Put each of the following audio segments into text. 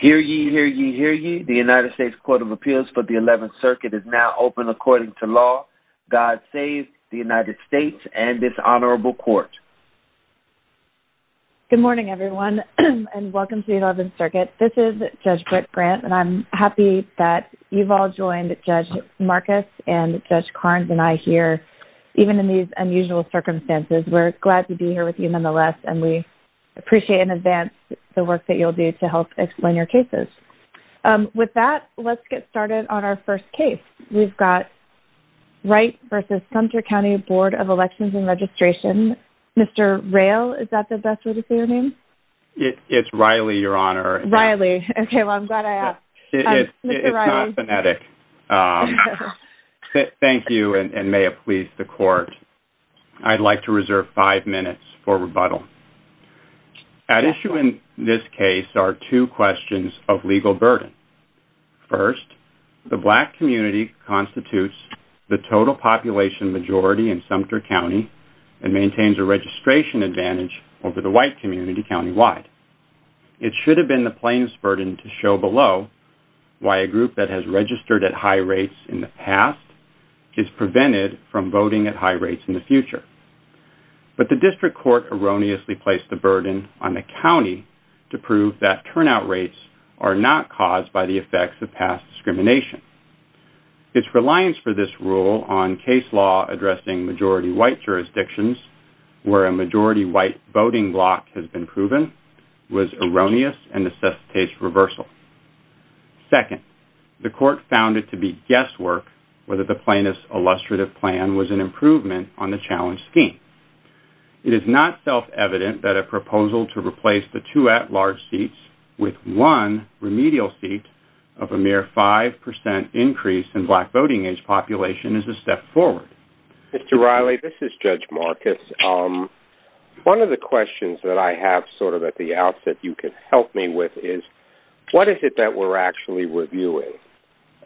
Hear ye, hear ye, hear ye. The United States Court of Appeals for the 11th Circuit is now open according to law. God save the United States and this honorable court. Good morning everyone and welcome to the 11th Circuit. This is Judge Rick Grant and I'm happy that you've all joined Judge Marcus and Judge Carnes and I here even in these unusual circumstances. We're glad to be here with you to help explain your cases. With that, let's get started on our first case. We've got Wright v. Sumter County Board of Elections and Registration. Mr. Rayl, is that the best way to say your name? It's Riley, Your Honor. Riley. Okay, well I'm glad I asked. It's not phonetic. Thank you and may it please the court. I'd like to reserve five minutes for rebuttal. At issue in this case are two questions of legal burden. First, the black community constitutes the total population majority in Sumter County and maintains a registration advantage over the white community countywide. It should have been the plainest burden to show below why a group that has registered at high rates in the past is prevented from voting at high rates in the future. But the district court erroneously placed the burden on the county to prove that turnout rates are not caused by the effects of past discrimination. Its reliance for this rule on case law addressing majority white jurisdictions where a majority white voting bloc has been proven was erroneous and necessitates reversal. Second, the court found it to be guesswork whether the plainest illustrative plan was an improvement on the challenge scheme. It is not self-evident that a proposal to replace the two at-large seats with one remedial seat of a mere 5% increase in black voting age population is a step forward. Mr. Riley, this is Judge Marcus. One of the questions that I have sort of at the outset you could help me with is what is it that we're actually reviewing?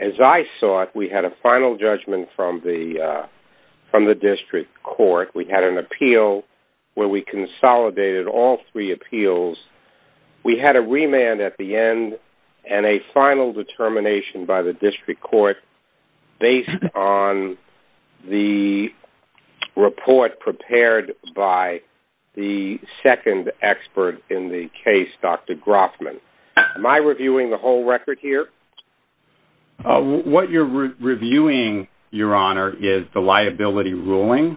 As I saw it, we had a final judgment from the district court. We had an appeal where we consolidated all three appeals. We had a remand at the end and a final determination by the district court based on the report prepared by the second expert in the case, Dr. Groffman. Am I reviewing the whole record here? What you're reviewing, Your Honor, is the liability ruling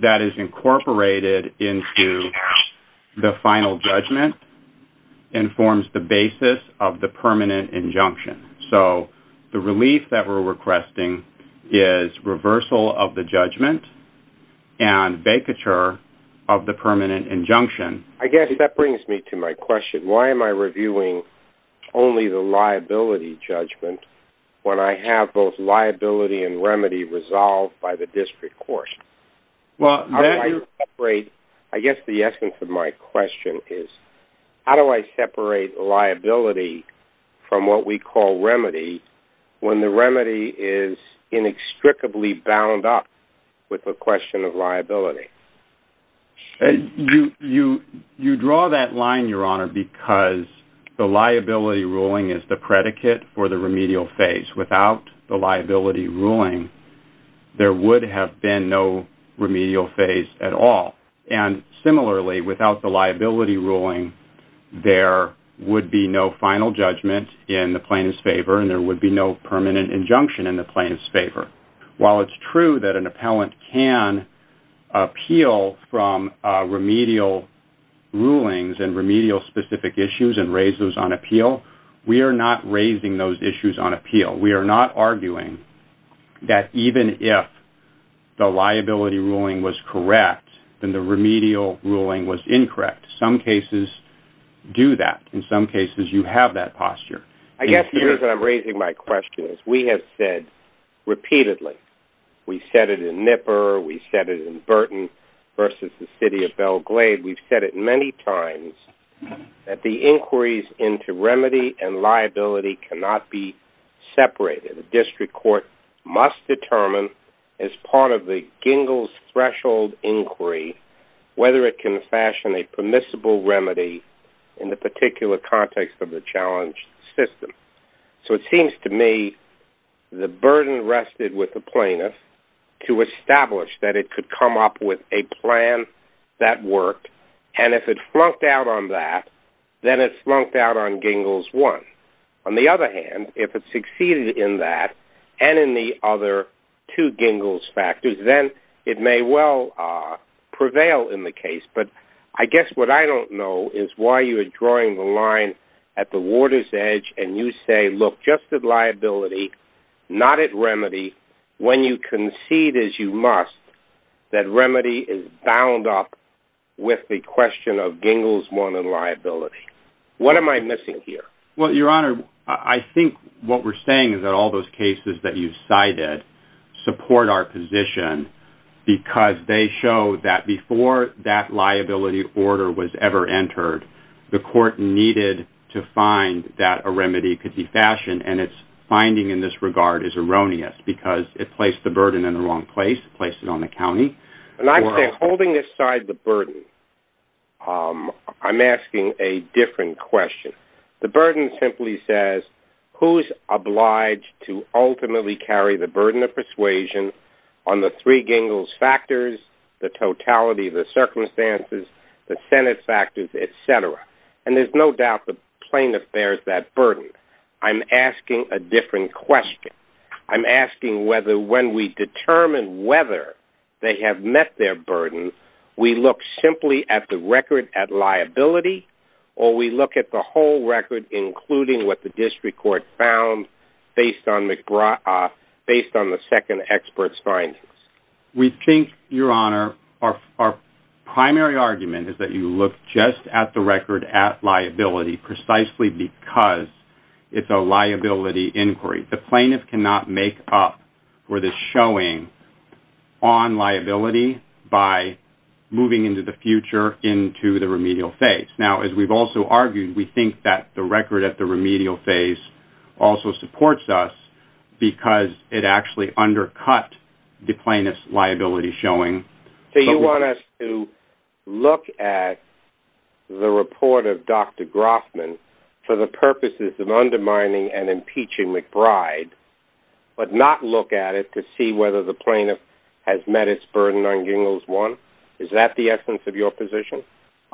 that is incorporated into the final judgment and forms the basis of the permanent injunction. So the relief that we're requesting is reversal of the judgment and vacature of the permanent injunction. I guess that brings me to my question. Why am I reviewing only the liability judgment when I have both liability and remedy resolved by the district court? I guess the essence of my question is how do I separate liability from what we call remedy when the remedy is inextricably bound up with the question of liability? You draw that line, Your Honor, because the liability ruling is the predicate for the remedial phase. Without the liability ruling, there would have been no remedial phase at all. And similarly, without the liability ruling, there would be no final judgment in the plaintiff's favor and there would be no permanent injunction in the plaintiff's favor. While it's true that an appellant can appeal from remedial rulings and remedial specific issues and raise those on appeal, we are not raising those issues on appeal. We are not arguing that even if the liability ruling was correct, then the remedial ruling was incorrect. Some cases do that. In some cases, you have that posture. I guess yours and I'm raising my question is we have said repeatedly, we've said it in Nipper, we've said it in Burton versus the City of Belgrade, we've said it in Nipper. The inquiries into remedy and liability cannot be separated. The district court must determine as part of the Gingell's threshold inquiry whether it can fashion a permissible remedy in the particular context of the challenge system. So it seems to me the burden rested with the plaintiff to establish that it could come up with a plan that worked and if it flunked out on that, then it flunked out on Gingell's one. On the other hand, if it succeeded in that and in the other two Gingell's factors, then it may well prevail in the case. But I guess what I don't know is why you are drawing the line at the water's edge and you say, look, just at liability, not at remedy. When you concede as you must, that remedy is bound up with the question of Gingell's one and liability. What am I missing here? Well, Your Honor, I think what we're saying is that all those cases that you cited support our position because they show that before that liability order was ever entered, the court needed to find that a remedy could be fashioned and it's finding in this regard is erroneous because it placed the burden in the wrong place, placed it on the county. And I think holding aside the burden, I'm asking a different question. The burden simply says who's obliged to ultimately carry the burden of persuasion on the three Gingell's factors, the totality, the circumstances, the Senate factors, etc. And there's no doubt the plaintiff bears that burden. I'm asking a different question. I'm asking whether when we determine whether they have met their burden, we look simply at the record at liability or we look at the whole record, including what the district court found based on the second expert's findings. We think, Your Honor, our primary argument is that you look just at the record at liability precisely because it's a liability inquiry. The plaintiff cannot make up for the showing on liability by moving into the future into the remedial phase. Now, as we've also argued, we think that the record at the remedial phase also supports us because it actually undercut the You want us to look at the report of Dr. Groffman for the purposes of undermining and impeaching McBride, but not look at it to see whether the plaintiff has met its burden on Gingell's 1? Is that the essence of your position?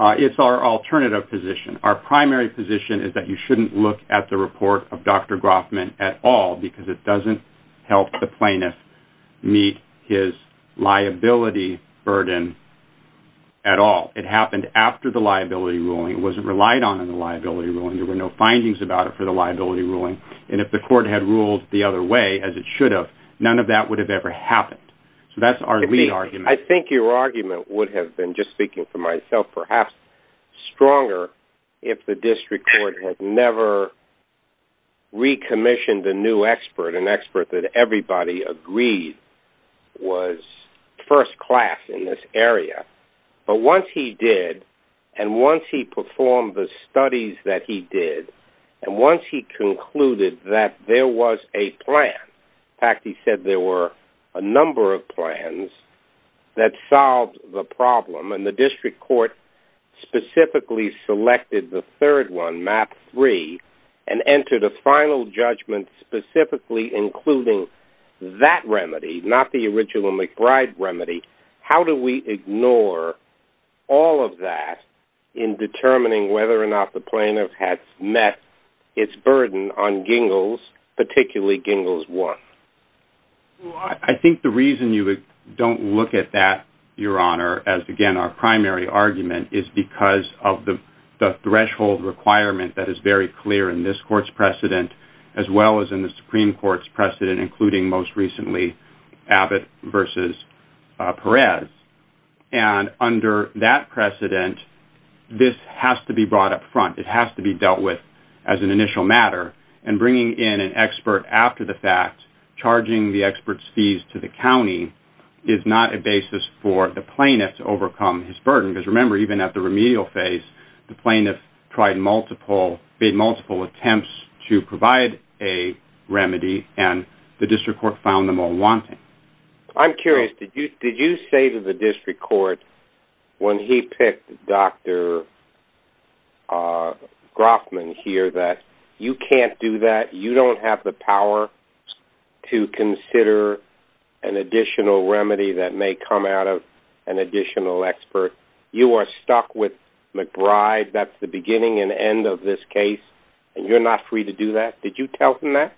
It's our alternative position. Our primary position is that you shouldn't look at the report of Dr. Groffman at all because it doesn't help the plaintiff meet his liability burden at all. It happened after the liability ruling. It wasn't relied on in the liability ruling. There were no findings about it for the liability ruling, and if the court had ruled the other way, as it should have, none of that would have ever happened. So that's our main argument. I think your argument would have been, just speaking for myself, perhaps stronger if the district court had never recommissioned a new expert, an expert that everybody agreed was first-class in this area. But once he did, and once he performed the studies that he did, and once he concluded that there was a plan, in fact he said there were a number of plans that solved the problem, and the district court specifically selected the third one, MAP-3, and entered a final judgment specifically including that remedy, not the original McBride remedy. How do we ignore all of that in determining whether or not the plaintiff has met its burden on Gingles, particularly Gingles 1? I think the reason you don't look at that, Your Honor, as again our primary argument, is because of the threshold requirement that is very clear in this court's precedent, as well as in the Supreme Court's precedent, including most recently Abbott v. Perez. And under that precedent, this has to be brought up front. It has to be dealt with as an initial matter, and bringing in an expert after the fact, charging the expert's fees to the county, is not a basis for the plaintiff to overcome his burden. Because remember, even at the remedial phase, the plaintiff tried multiple, made multiple attempts to provide a remedy, and the district court found them all wanting. I'm curious, did you say to the district court when he picked Dr. Groffman here that you can't do that, you don't have the power to consider an additional remedy that may come out of an additional expert, you are with McBride, that's the beginning and end of this case, and you're not free to do that? Did you tell him that?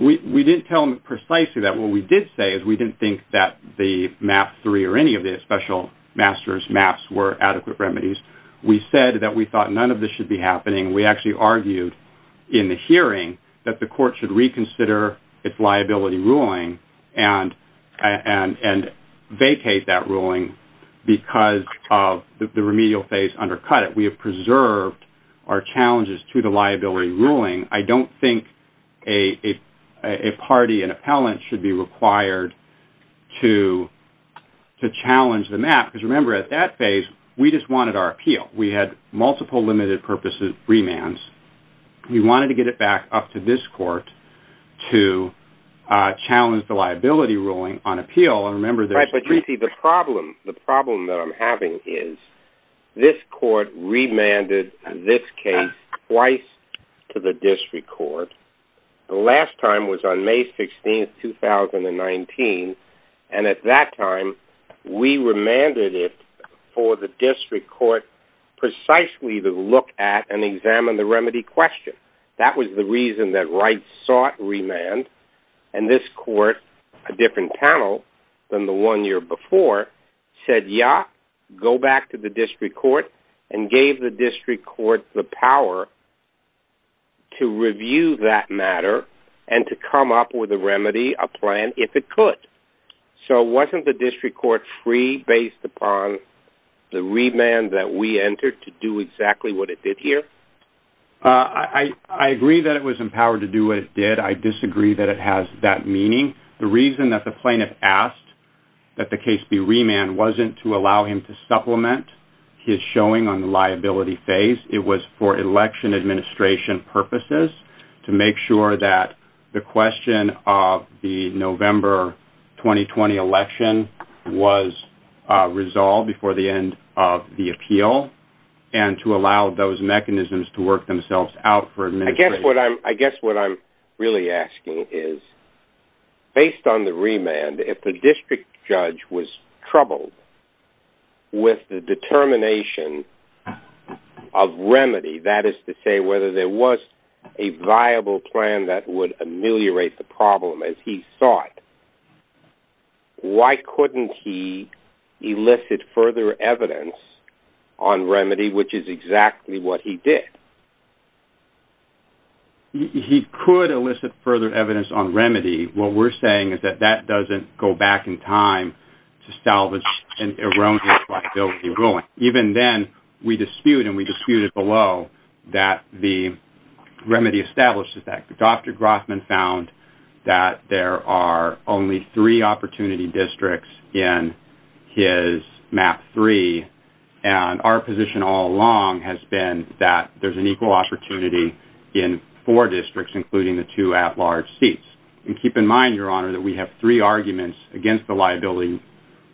We didn't tell him precisely that. What we did say is we didn't think that the MAP 3 or any of the special master's MAPs were adequate remedies. We said that we thought none of this should be happening. We actually argued in the hearing that the court should reconsider its the remedial phase undercut it. We have preserved our challenges to the liability ruling. I don't think a party, an appellant, should be required to challenge the MAP. Because remember, at that phase, we just wanted our appeal. We had multiple limited purposes remands. We wanted to get it back up to this court to challenge the liability ruling on appeal, and remember... Right, but you see the problem that I'm having is this court remanded this case twice to the district court. The last time was on May 16th, 2019, and at that time we remanded it for the district court precisely to look at and examine the remedy question. That was the reason that Wright sought remand, and this court, a different panel than the one year before, said, yeah, go back to the district court and gave the district court the power to review that matter and to come up with a remedy, a plan, if it could. So wasn't the district court free based upon the remand that we entered to do exactly what it did here? I agree that it was empowered to do what it did. I disagree that it has that meaning. The reason that the plaintiff asked that the case be remanded wasn't to allow him to supplement his showing on the liability phase. It was for election administration purposes to make sure that the question of the November 2020 election was resolved before the end of the appeal and to allow those mechanisms to work themselves out for... I guess what I'm really asking is, based on the remand, if the district judge was troubled with the determination of remedy, that is to say whether there was a viable plan that would ameliorate the problem as he thought, why couldn't he elicit further evidence on remedy, which is exactly what he did? He could elicit further evidence on remedy. What we're saying is that that doesn't go back in time to salvage an erroneous liability ruling. Even then, we dispute and we disputed below that the remedy establishes that. Dr. Groffman found that there are only three opportunity districts in his MAP-3, and our position all along has been that there's an equal opportunity in four districts, including the two at-large seats. Keep in mind, Your Honor, that we have three arguments against the liability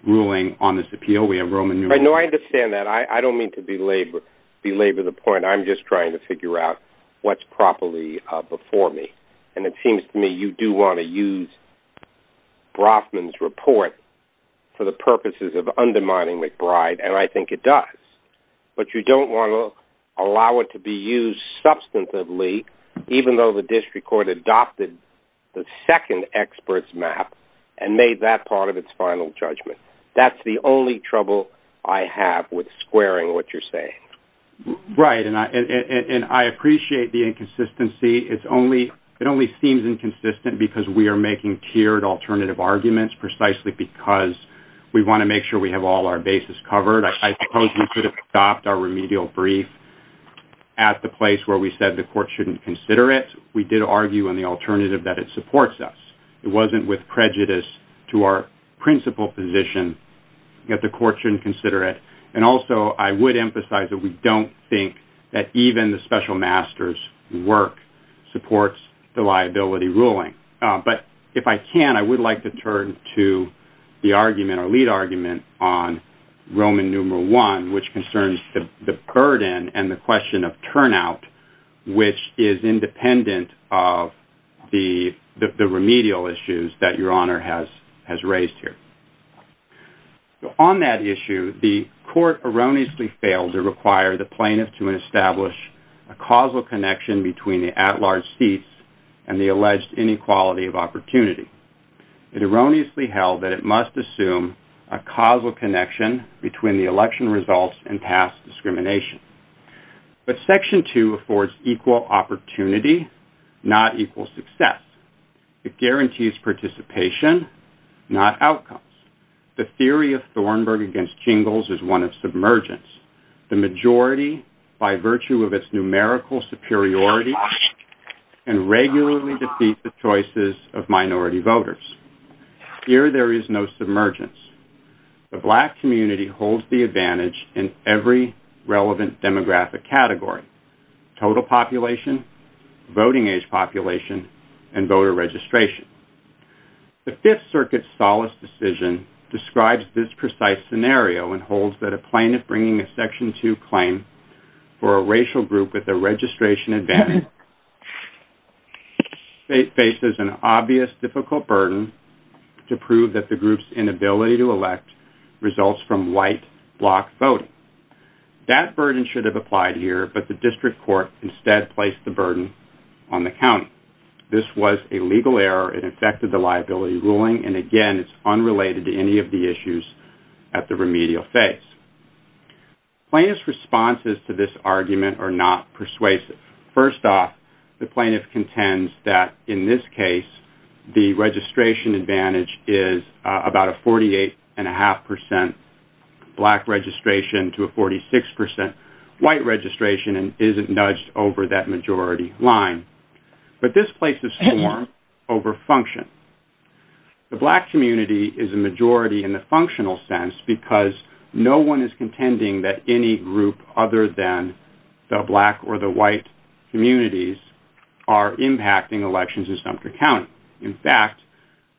ruling on this appeal. We have Roman... No, I understand that. I don't mean to belabor the point. I'm just trying to figure out what's properly before me, and it seems to me you do want to use Groffman's report for the purposes of undermining McBride, and I think it does, but you don't want to allow it to be used substantively, even though the district court adopted the second expert's MAP and made that part of its final judgment. That's the only trouble I have with squaring what you're saying. Right, and I appreciate the consistency. It only seems inconsistent because we are making tiered alternative arguments precisely because we want to make sure we have all our bases covered. I suppose we could have stopped our remedial brief at the place where we said the court shouldn't consider it. We did argue on the alternative that it supports us. It wasn't with prejudice to our principal position that the court shouldn't consider it, and also I would emphasize that we don't think that even the special master's work supports the liability ruling, but if I can, I would like to turn to the argument, our lead argument, on Roman numeral one, which concerns the burden and the question of turnout, which is independent of the remedial issues that Your Honor has established a causal connection between the at-large seats and the alleged inequality of opportunity. It erroneously held that it must assume a causal connection between the election results and past discrimination, but section two affords equal opportunity, not equal success. It guarantees participation, not outcomes. The theory of Thornburg against Jingles is one of submergence. The majority, by virtue of its numerical superiority, can regularly defeat the choices of minority voters. Here, there is no submergence. The black community holds the advantage in every relevant demographic category, total population, voting age population, and voter registration. The Fifth Circuit Solace decision describes this precise scenario and holds that a plaintiff bringing a claim for a racial group with a registration advantage faces an obvious difficult burden to prove that the group's inability to elect results from white block voting. That burden should have applied here, but the district court instead placed the burden on the county. This was a legal error. It affected the liability ruling, and again, it's unrelated to any of the issues at the remedial phase. Plaintiff's responses to this argument are not persuasive. First off, the plaintiff contends that in this case, the registration advantage is about a 48 and a half percent black registration to a 46 percent white registration and isn't nudged over that majority line, but this place is formed over function. The black community is a majority in the functional sense because no one is contending that any group other than the black or the white communities are impacting elections in Sumter County. In fact,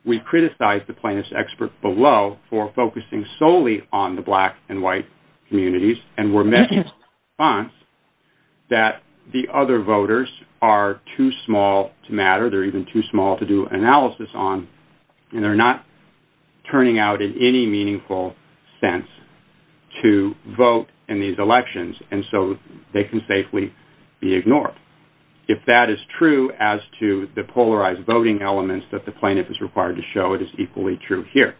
we criticize the plaintiff's expert below for focusing solely on the black and white communities, and we're missing that the other voters are too small to matter. They're even too small to do analysis on, and they're not turning out in any meaningful sense to vote in these elections, and so they can safely be ignored. If that is true as to the polarized voting elements that the plaintiff is required to show, it is equally true here.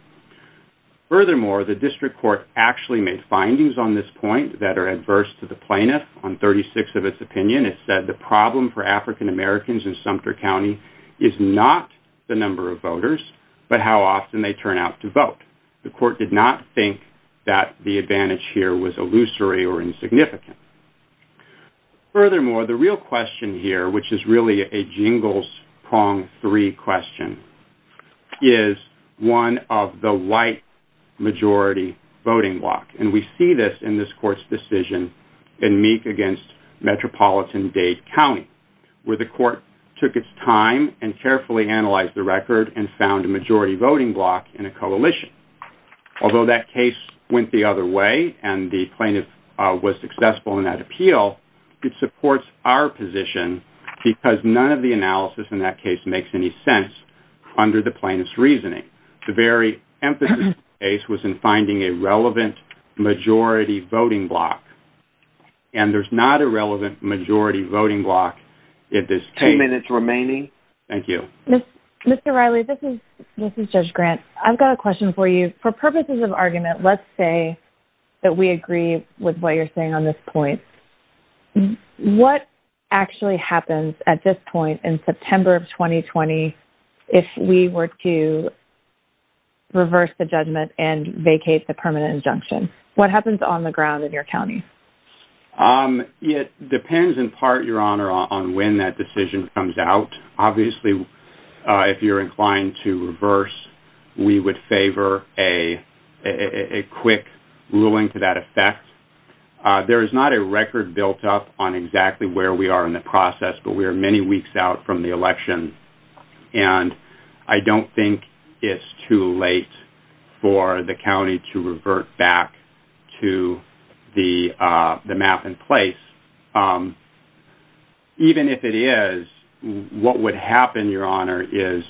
Furthermore, the district court actually made findings on this point that are adverse to the plaintiff. On 36 of its opinion, it said the problem for African-Americans in Sumter County is not the number of voters, but how often they turn out to vote. The court did not think that the advantage here was illusory or insignificant. Furthermore, the real question here, which is really a jingles prong three question, is one of the white majority voting block, and we see this in this court's decision in Meek against Metropolitan Dade County, where the court took its time and carefully analyzed the record and found a majority voting block in a coalition. Although that case went the other way and the plaintiff was successful in that appeal, it supports our position because none of the analysis in that case makes any sense under the plaintiff's reasoning. The very emphasis of the case was in finding a not irrelevant majority voting block if there's two minutes remaining. Thank you. Mr. Riley, this is Judge Grant. I've got a question for you. For purposes of argument, let's say that we agree with what you're saying on this point. What actually happens at this point in September of 2020 if we were to reverse the judgment and vacate the permanent injunction? What happens on the ground in your county? It depends in part, Your Honor, on when that decision comes out. Obviously, if you're inclined to reverse, we would favor a quick ruling for that effect. There is not a record built up on exactly where we are in the process, but we are many weeks out from the election, and I don't think it's too late for the map in place. Even if it is, what would happen, Your Honor, is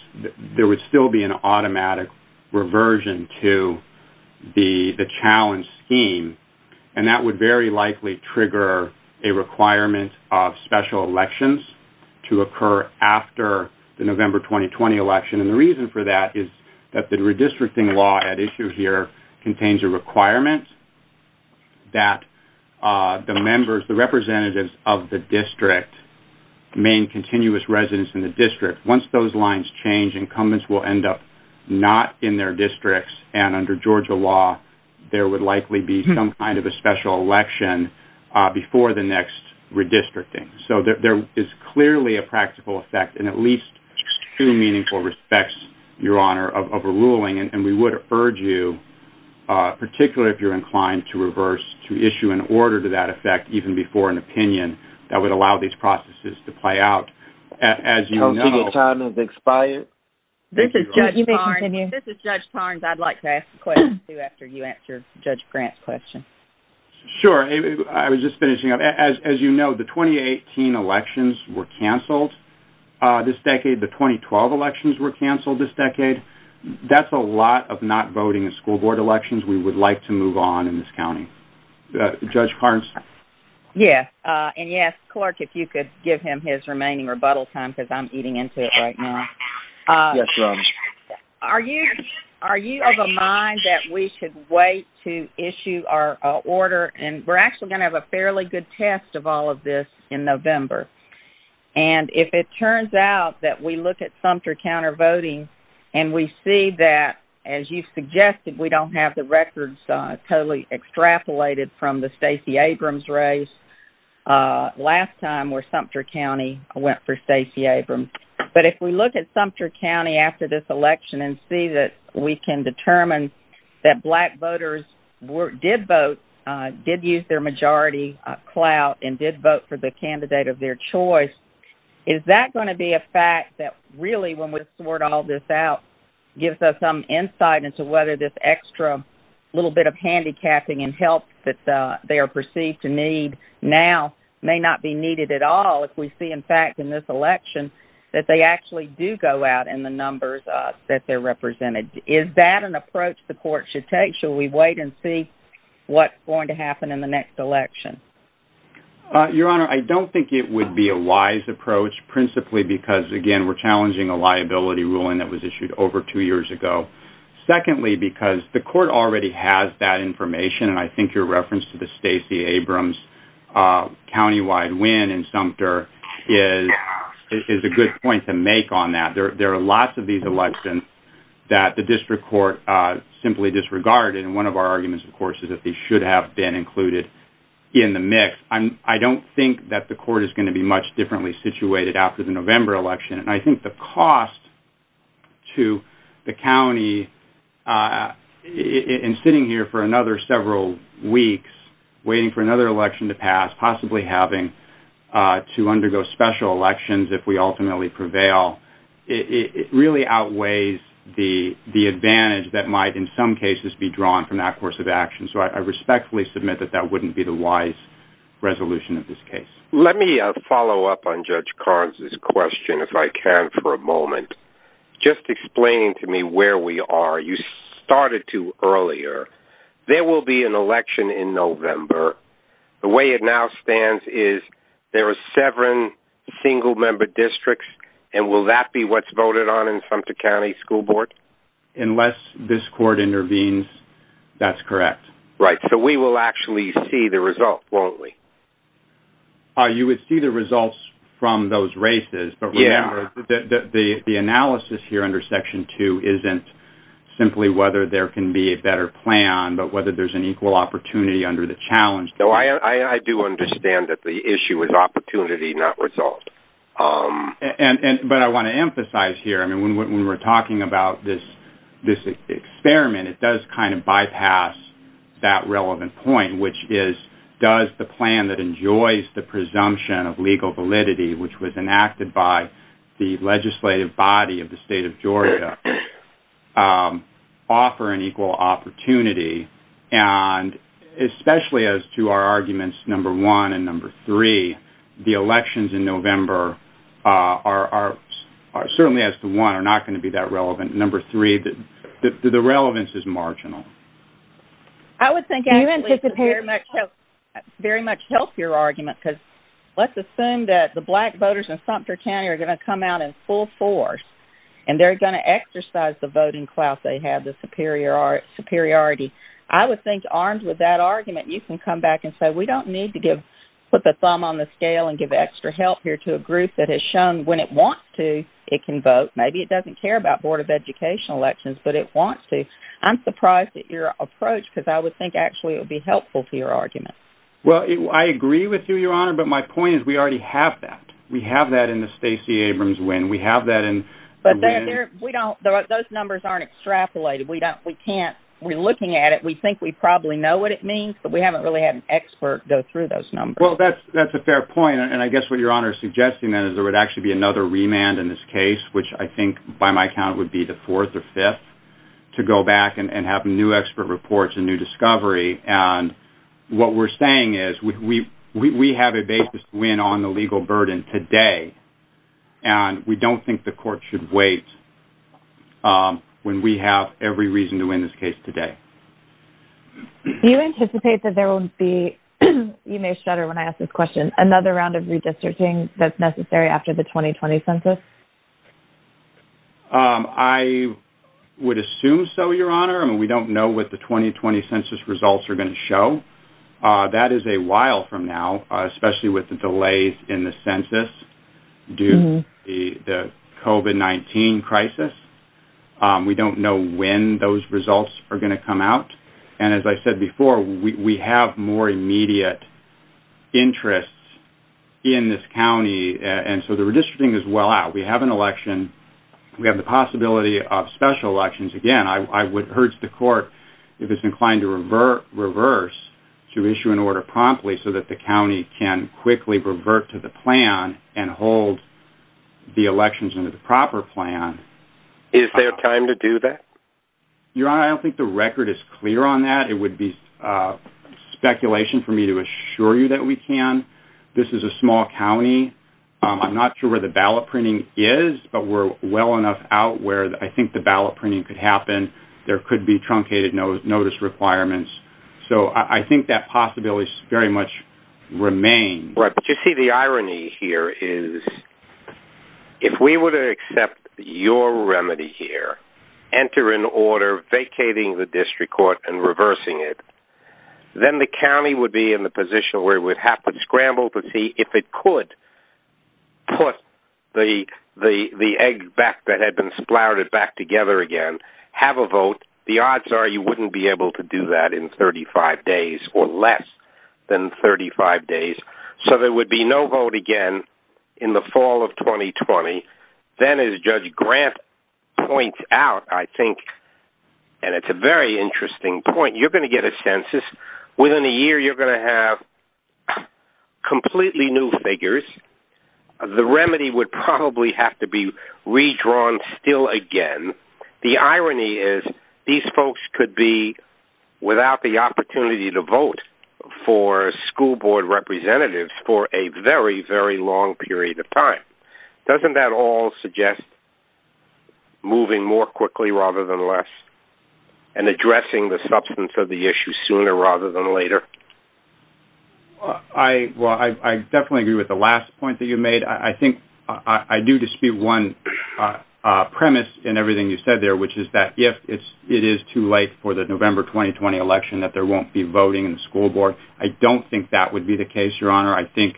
there would still be an automatic reversion to the challenge scheme, and that would very likely trigger a requirement of special elections to occur after the November 2020 election, and the reason for that is that the redistricting law at issue here contains a requirement that the members, the representatives of the district, main continuous residents in the district, once those lines change, incumbents will end up not in their districts, and under Georgia law, there would likely be some kind of a special election before the next redistricting. So there is clearly a practical effect, in at least two meaningful respects, Your Honor, of a particular, if you're inclined to reverse, to issue an order to that effect even before an opinion that would allow these processes to play out. As you know... The time has expired. This is Judge Barnes. I'd like to ask a question, too, after you answered Judge Grant's question. Sure. I was just finishing up. As you know, the 2018 elections were canceled this decade. The 2012 elections were canceled this decade. That's a lot of not voting in the school board elections. We would like to move on in this county. Judge Barnes? Yes, and yes, Clark, if you could give him his remaining rebuttal time, because I'm eating into it right now. Are you of a mind that we should wait to issue our order, and we're actually going to have a fairly good test of all of this in November, and if it turns out that we look at Sumter countervoting and we see that, as you suggested, we don't have the records totally extrapolated from the Stacey Abrams race last time where Sumter County went for Stacey Abrams, but if we look at Sumter County after this election and see that we can determine that black voters did vote, did use their majority clout, and did vote for the candidate of their choice, is that going to be a fact that really when we sort all this out gives us some insight into whether this extra little bit of handicapping and help that they are perceived to need now may not be needed at all if we see, in fact, in this election that they actually do go out in the numbers that they're represented. Is that an approach the court should take? Should we wait and see what's going to happen in the next election? Your Honor, I don't think it would be a wise approach, principally because, again, we're looking at a possibility ruling that was issued over two years ago. Secondly, because the court already has that information, and I think your reference to the Stacey Abrams countywide win in Sumter is a good point to make on that. There are lots of these elections that the district court simply disregarded, and one of our arguments, of course, is that they should have been included in the mix. I don't think that the court is going to be much differently situated after the November election, and I think the cost to the county in sitting here for another several weeks waiting for another election to pass, possibly having to undergo special elections if we ultimately prevail, it really outweighs the advantage that might, in some cases, be drawn from that course of action. So I respectfully submit that that wouldn't be the wise resolution of this case. Let me follow up on Judge Carnes's question, if I can, for a moment. Just explaining to me where we are. You started to earlier. There will be an election in November. The way it now stands is there are seven single-member districts, and will that be what's voted on in Sumter County School Board? Unless this court intervenes, that's correct. Right, so we will actually see the result, won't we? You would see the results from those races, but remember that the analysis here under Section 2 isn't simply whether there can be a better plan, but whether there's an equal opportunity under the challenge. Though I do understand that the issue is opportunity, not result. But I want to emphasize here, I mean, when we're talking about this experiment, it does kind of bypass that relevant point, which is, does the plan that enjoys the presumption of legal validity, which was enacted by the legislative body of the state of Georgia, offer an equal opportunity? And especially as to our arguments number one and number three, the elections in November are certainly, as to one, are not going to be that relevant. Number three, the relevance is marginal. I would think it's a very much healthier argument, because let's assume that the black voters in Sumter County are going to come out in full force, and they're going to exercise the voting clout they have, the superiority. I would think armed with that argument, you can come back and say, we don't need to put the thumb on the scale and give extra help here to a group that has shown when it wants to, it can vote. Maybe it doesn't care about Board of I'm surprised at your approach, because I would think actually it would be helpful to your argument. Well, I agree with you, Your Honor, but my point is we already have that. We have that in the Stacey Abrams win. We have that in... But we don't, those numbers aren't extrapolated. We don't, we can't, we're looking at it, we think we probably know what it means, but we haven't really had an expert go through those numbers. Well, that's a fair point, and I guess what Your Honor is suggesting is there would actually be another remand in this case, which I think by my count would be the fourth or fifth, to go back and have new expert reports and new discovery, and what we're saying is we have a basis to win on the legal burden today, and we don't think the court should wait when we have every reason to win this case today. Do you anticipate that there will be, you may shudder when I ask this question, another round of redistricting that's necessary after the 2020 census? I would assume so, Your Honor, and we don't know what the 2020 census results are going to show. That is a while from now, especially with the delays in the census due to the COVID-19 crisis. We don't know when those results are going to come out, and as I said before, we have more immediate interests in this county, and so the redistricting is well out. We have an election. We have the possibility of special elections. Again, I would urge the court, if it's inclined to reverse, to issue an order promptly so that the county can quickly revert to the plan and hold the elections under the proper plan. Is there time to do that? Your Honor, I don't think the record is clear on that. It would be speculation for me to assure you that we can. This is a small county. I'm not sure where the ballot printing is, but we're well enough out where I think the ballot printing could happen. There could be truncated notice requirements, so I think that possibility very much remains. What you see, the irony here is, if we were to accept your remedy here, enter an order vacating the county, and then the county would be in the position where it would have to scramble to see if it could put the eggs that had been splattered back together again, have a vote. The odds are you wouldn't be able to do that in 35 days or less than 35 days, so there would be no vote again in the fall of 2020. Then, as Judge Grant points out, I think, and it's a very interesting point, you're going to get a census. Within a year, you're going to have completely new figures. The remedy would probably have to be redrawn still again. The irony is, these folks could be without the opportunity to vote for school board representatives for a very, very long period of time. Doesn't that all suggest moving more quickly rather than less, and addressing the substance of the issue sooner rather than later? Well, I definitely agree with the last point that you made. I think I do dispute one premise in everything you said there, which is that if it is too late for the November 2020 election, that there won't be voting in the school board. I don't think that would be the case, Your Honor. I think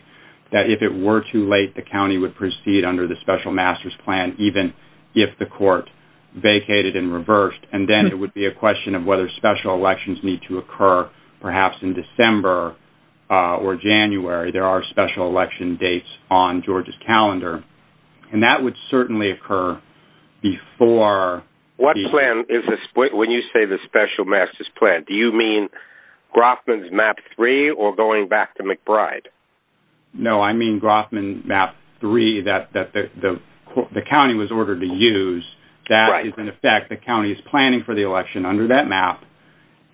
that if it were too late, the county would proceed under the special master's plan, even if the court vacated and reversed, and then it would be a question of whether special elections need to occur. Perhaps in December or January, there are special election dates on Georgia's calendar, and that would certainly occur before... What plan is this when you say the special master's plan? Do you mean Groffman's Map 3 or going back to McBride? No, I mean Groffman Map 3 that the county was ordered to use. That is, in effect, the county is planning for the election under that map,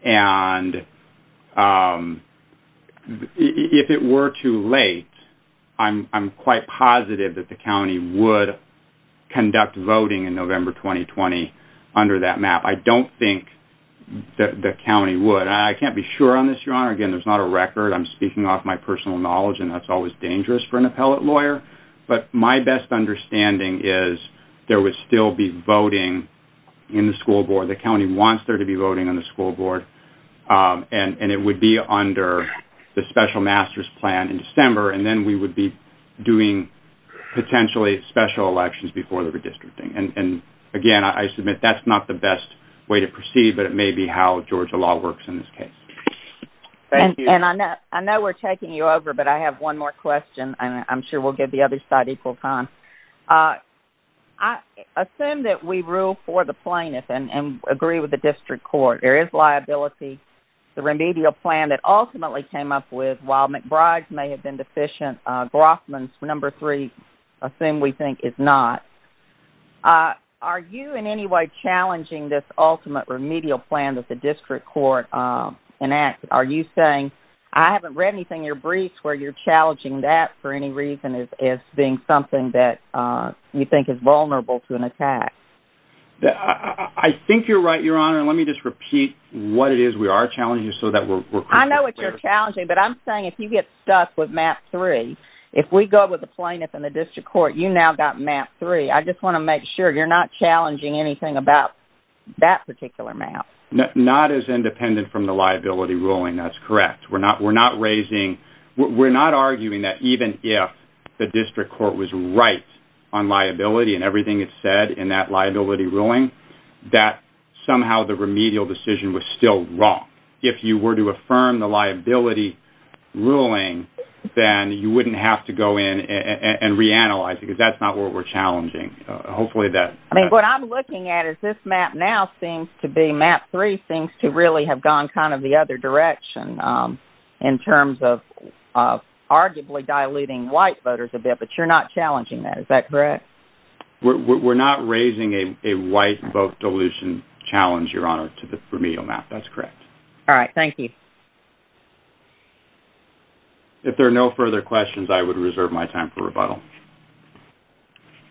and if it were too late, I'm quite positive that the county would conduct voting in November 2020 under that map. I don't think that the county would. I can't be sure on this, Your Honor. Again, there's not a record. I'm speaking off my personal knowledge, and that's always dangerous for an appellate lawyer, but my best understanding is there would still be voting in the school board. The county wants there to be voting on the school board, and it would be under the special master's plan in December, and then we would be doing potentially special elections before the redistricting, and again, I submit that's not the best way to proceed, but it may be how Georgia law works in this case. Thank you. And I know we're taking you over, but I have one more question, and I'm sure we'll give the other side equal time. I assume that we rule for the plaintiff and agree with the district court. There is liability. The remedial plan that ultimately came up with, while McBride may have been deficient, Groffman's number three, I assume we think, is not. Are you in any way challenging this ultimate remedial plan that the district court enacted? Are you saying, I haven't read anything in your briefs where you're challenging that for any reason as being something that you think is vulnerable to an attack? Yeah, I think you're right, Your Honor. Let me just repeat what it is we are challenging, so that we're clear. I know what you're challenging, but I'm saying if you get stuck with map three, if we go with the plaintiff and the district court, you now got map three. I just want to make sure you're not challenging anything about that particular map. Not as independent from the liability ruling, that's correct. We're not raising, we're not arguing that even if the district court was right on liability and everything it said in that liability ruling, that somehow the remedial decision was still wrong. If you were to affirm the liability ruling, then you wouldn't have to go in and reanalyze it, because that's not what we're challenging. What I'm looking at is this map now seems to be, map three seems to really have gone kind of the other direction in terms of arguably diluting white voters a bit, but you're not challenging that, is that correct? We're not raising a white vote dilution challenge, Your Honor, to the remedial map, that's correct. All right, thank you. If there are no further questions, I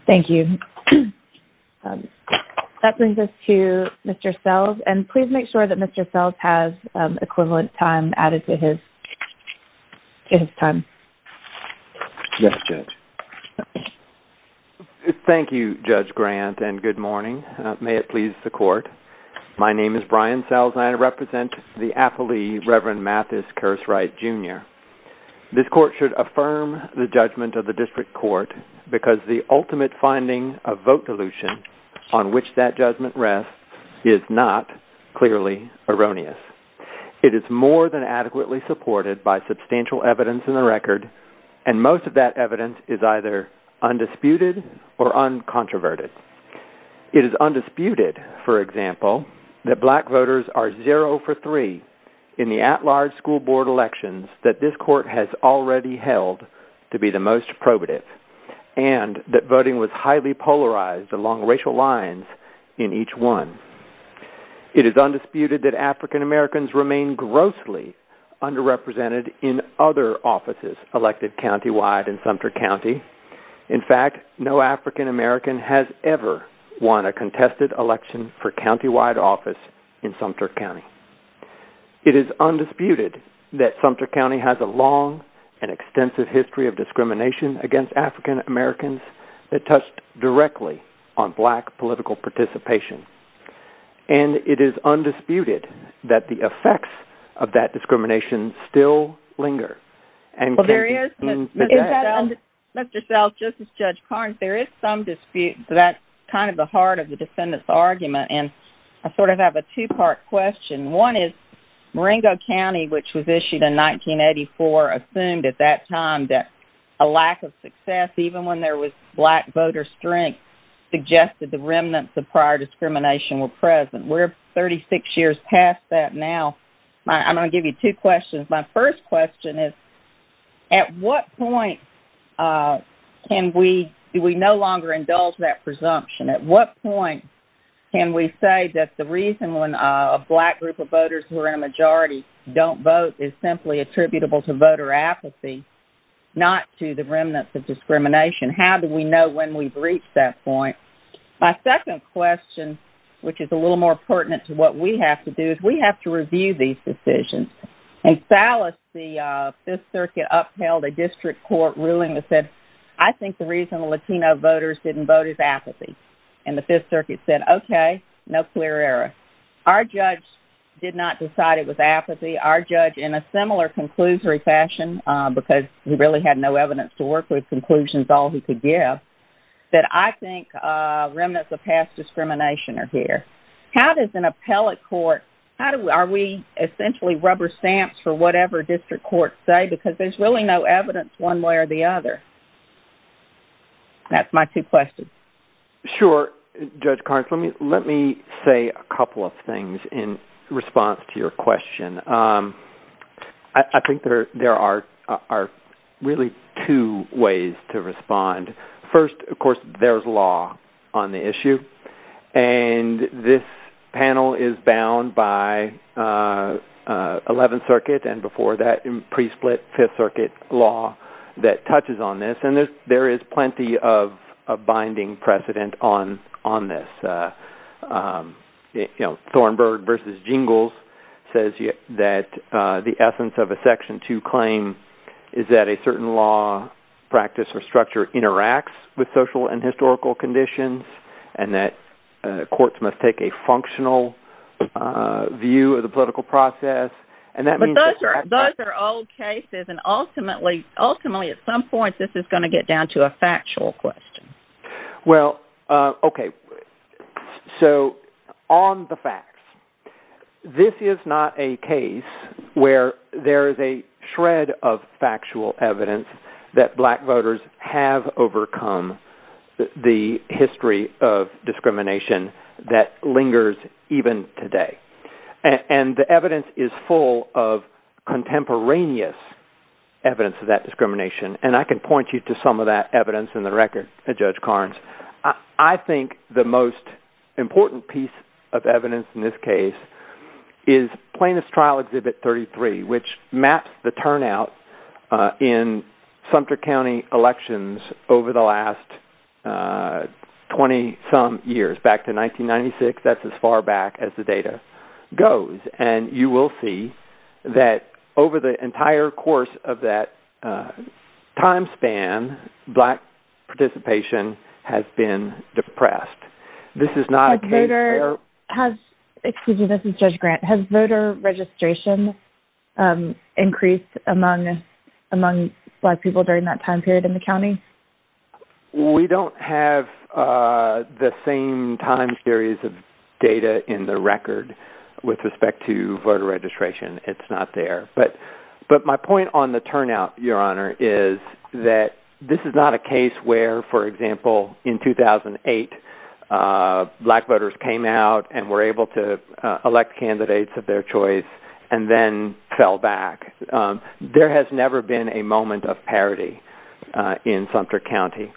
Thank you. That brings us to Mr. Sells, and please make sure that Mr. Sells has equivalent time added to his time. Yes, Judge. Thank you, Judge Grant, and good morning. May it please the court. My name is Brian Sells, and I represent the affilee, Reverend Mathis Cursewright, Jr. This court should affirm the judgment of the district court, because the ultimate finding of vote dilution on which that judgment rests is not clearly erroneous. It is more than adequately supported by substantial evidence in the record, and most of that evidence is either undisputed or uncontroverted. It is undisputed, for example, that black voters are zero for three in the at-large school board elections that this court has already held to be the most probative, and that voting was highly polarized along racial lines in each one. It is undisputed that African-Americans remain grossly underrepresented in other offices elected countywide in Sumter County. In fact, no African-American has ever won a contested election for countywide office in Sumter County. It is undisputed that there is a long and extensive history of discrimination against African-Americans that touched directly on black political participation, and it is undisputed that the effects of that discrimination still linger. Mr. Sells, just as Judge Carnes, there is some dispute. That's kind of the heart of the defendant's argument, and I sort of have a two-part question. One is, Marengo County, which was issued in 1984, assumed at that time that a lack of success, even when there was black voter strength, suggested the remnants of prior discrimination were present. We're 36 years past that now. I'm going to give you two questions. My first question is, at what point can we no longer indulge that presumption? At what point can we say that the reason when a black group of voters who are in a majority don't vote is simply attributable to voter apathy, not to the remnants of discrimination? How do we know when we've reached that point? My second question, which is a little more pertinent to what we have to do, is we have to review these decisions. In Salas, the Fifth Circuit upheld a district court ruling that said, I think the reason Latino voters didn't vote is apathy. And the Fifth Circuit said, okay, no clear error. Our judge did not decide it was apathy. Our judge, in a similar conclusory fashion, because he really had no evidence to work with, conclusions all he could give, said, I think remnants of past discrimination are here. How does an appellate court, how do we, are we essentially rubber stamps for whatever district courts say? Because there's really no evidence one way or the other. That's my two questions. Sure, Judge Carnes, let me say a couple of things in response to your question. I think there are really two ways to respond. First, of course, there's law on the issue. And this panel is bound by 11th Circuit and before that in pre-split Fifth Circuit law that touches on this. And there is plenty of binding precedent on this. Thornburg v. Jingles says that the essence of a Section 2 claim is that a certain law, practice, or structure interacts with social and historical conditions, and that courts must take a case and ultimately, at some point, this is going to get down to a factual question. Well, okay, so on the facts, this is not a case where there is a shred of factual evidence that black voters have overcome the history of discrimination that lingers even today. And the evidence is full of contemporaneous evidence of that discrimination. And I can point you to some of that evidence in the record to Judge Carnes. I think the most important piece of evidence in this case is Plaintiff's Trial Exhibit 33, which maps the turnout in Sumter County elections over the last 20-some years, back to 1996. That's as far back as the data goes. And you will see that over the entire course of that time span, black participation has been depressed. This is not a case where... Excuse me, this is Judge Grant. Has voter registration increased among black people during that time period in county? We don't have the same time series of data in the record with respect to voter registration. It's not there. But my point on the turnout, Your Honor, is that this is not a case where, for example, in 2008, black voters came out and were able to elect candidates of their choice and then fell back. There has never been a moment of parity in Sumter County.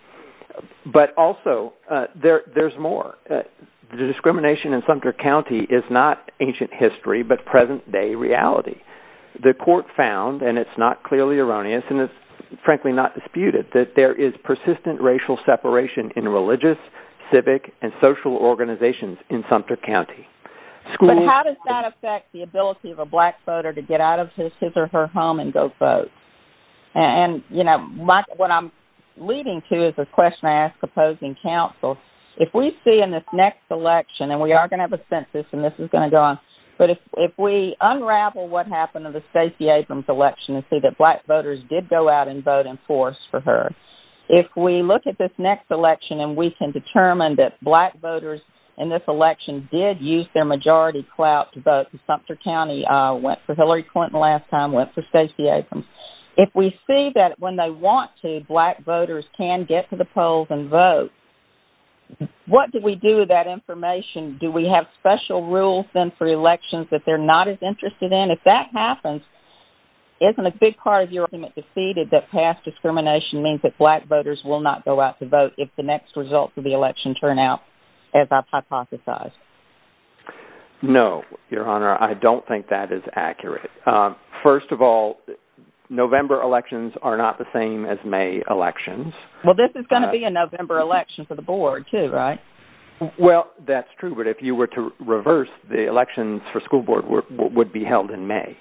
But also, there's more. The discrimination in Sumter County is not ancient history, but present-day reality. The court found, and it's not clearly erroneous, and it's frankly not disputed, that there is persistent racial separation in religious, civic, and social organizations in Sumter County. But how does that affect the ability of a black voter to choose his or her home and go vote? And, you know, what I'm leading to is a question I ask proposing counsel. If we see in this next election, and we are going to have a census and this is going to go on, but if we unravel what happened in the Stacey Abrams election and see that black voters did go out and vote in force for her. If we look at this next election and we can determine that black voters in this election did use their majority clout to vote. Sumter County went for Hillary Clinton last time, went for Stacey Abrams. If we see that when they want to, black voters can get to the polls and vote, what do we do with that information? Do we have special rules then for elections that they're not as interested in? If that happens, isn't a big part of your argument deceited that past discrimination means that black voters will not go out to vote if the next results of the election turn out as I've hypothesized? No, Your Honor. I don't think that is accurate. First of all, November elections are not the same as May elections. Well, this is going to be a November election for the board too, right? Well, that's true, but if you were to reverse the elections for school board would be held in May.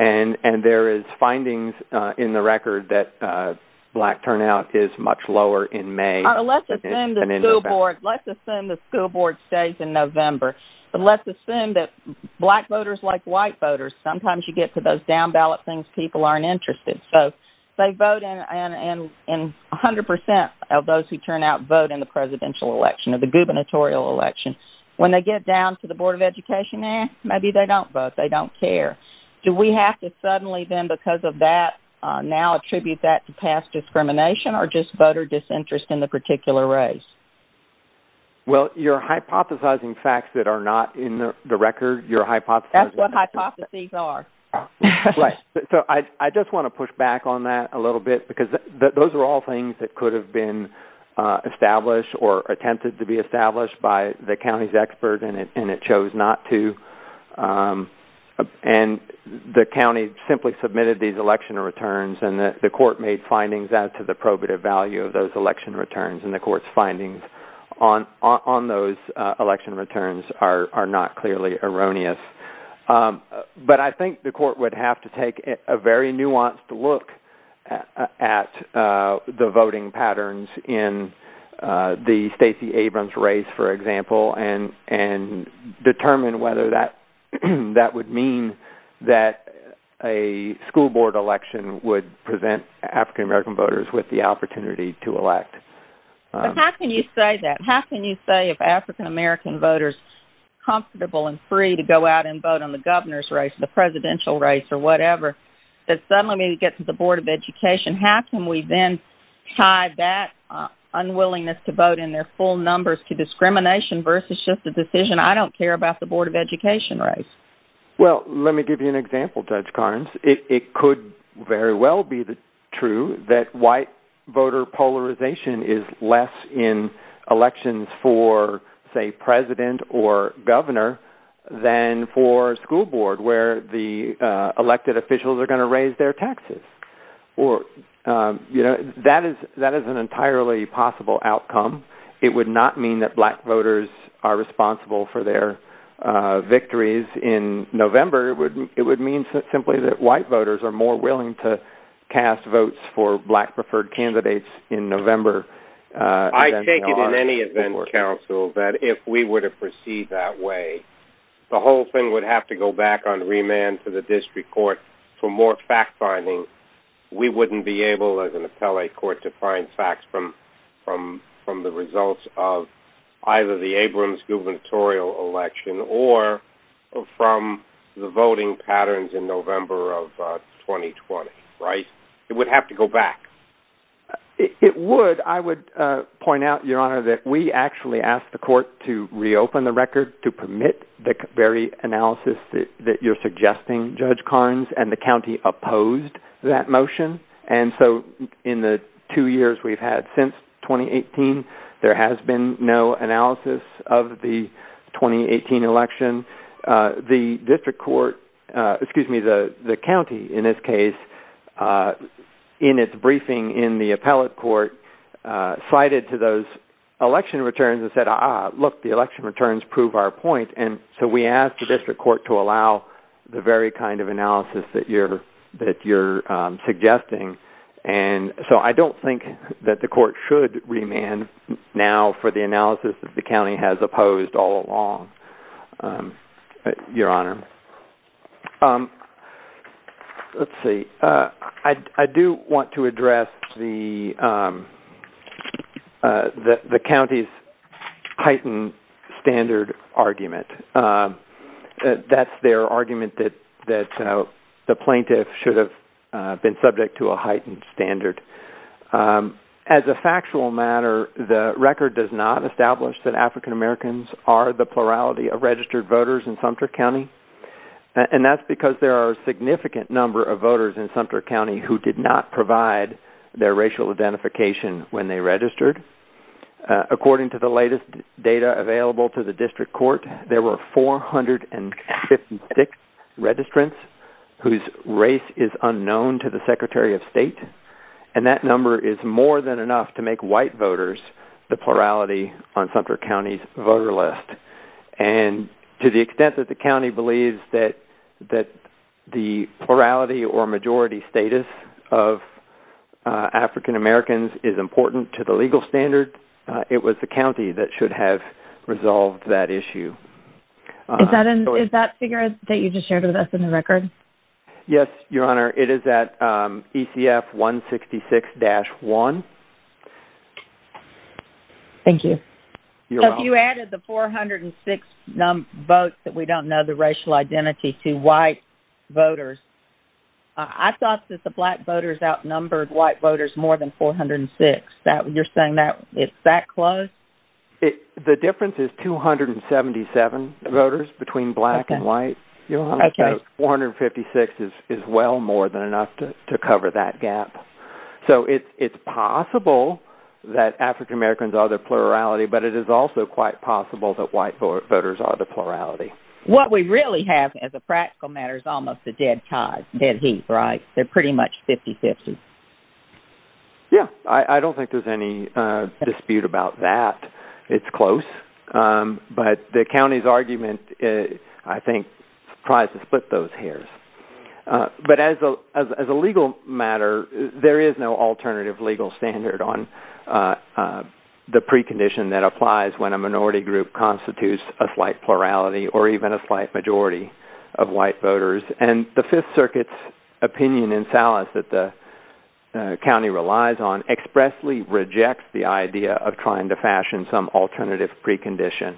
And there is findings in the record that black turnout is much lower in May. Let's assume the school board stays in Sometimes you get to those down-ballot things people aren't interested. So they vote and a hundred percent of those who turn out vote in the presidential election or the gubernatorial election. When they get down to the Board of Education, eh, maybe they don't vote, they don't care. Do we have to suddenly then because of that now attribute that to past discrimination or just voter disinterest in the particular race? Well, you're hypothesizing facts that are not in the record. That's what hypotheses are. I just want to push back on that a little bit because those are all things that could have been established or attempted to be established by the county's expert and it chose not to. And the county simply submitted these election returns and that the court made findings as to the probative value of those election returns and the court's election returns are not clearly erroneous. But I think the court would have to take a very nuanced look at the voting patterns in the Stacey Abrams race, for example, and determine whether that that would mean that a school board election would present African-American voters with the African-American voters comfortable and free to go out and vote on the governor's race, the presidential race or whatever, that suddenly we get to the Board of Education. How can we then tie that unwillingness to vote in their full numbers to discrimination versus just a decision? I don't care about the Board of Education race. Well, let me give you an example, Judge Connors. It could very well be true that white voter polarization is less in elections for, say, president or governor than for school board where the elected officials are going to raise their taxes or, you know, that is an entirely possible outcome. It would not mean that black voters are responsible for their victories in casting votes for black preferred candidates in November. I take it in any event, counsel, that if we were to proceed that way, the whole thing would have to go back on remand to the district court for more fact-finding. We wouldn't be able, as an appellate court, to find facts from the results of either the Abrams gubernatorial election or from the voting patterns in November of 2020, right? It would have to go back. It would. I would point out, Your Honor, that we actually asked the court to reopen the record to permit the very analysis that you're suggesting, Judge Connors, and the county opposed that motion, and so in the two years we've had since 2018, there has been no analysis of the 2018 election. The district court, excuse me, the county, in this case, in its briefing in the appellate court, cited to those election returns and said, ah, look, the election returns prove our point, and so we asked the district court to allow the very kind of analysis that you're suggesting, and so I don't think that the court should remand now for the analysis that the county has opposed all along, Your Honor. Let's see, I do want to address the county's Titan standard argument. That's their argument that the plaintiff should have been subject to a heightened standard. As a factual matter, the record does not establish that African Americans are the plurality of registered voters in Sumter County, and that's because there are a significant number of voters in Sumter County who did not provide their racial identification when they registered. According to the latest data available to the district court, there were 456 registrants whose race is unknown to the Secretary of State, and that number is more than enough to make white voters the plurality on Sumter County's voter list, and to the extent that the county believes that the plurality or majority status of African Americans is that issue. Is that figure that you just shared with us in the record? Yes, Your Honor, it is at ECF 166-1. Thank you. So if you added the 406 votes that we don't know the racial identity to white voters, I thought that the black voters outnumbered white voters more than 406. You're saying that it's that close? The difference is 277 voters between black and white. 456 is well more than enough to cover that gap. So it's possible that African Americans are the plurality, but it is also quite possible that white voters are the plurality. What we really have as a practical matter is almost a dead tie, dead heat, right? They're pretty much 50-50. Yeah, I don't think there's any dispute about that. It's close, but the county's argument I think tries to split those hairs. But as a legal matter, there is no alternative legal standard on the precondition that applies when a minority group constitutes a slight plurality or even a slight majority of white voters, and the Fifth Circuit's opinion in Salas that the county relies on expressly rejects the idea of trying to fashion some alternative precondition.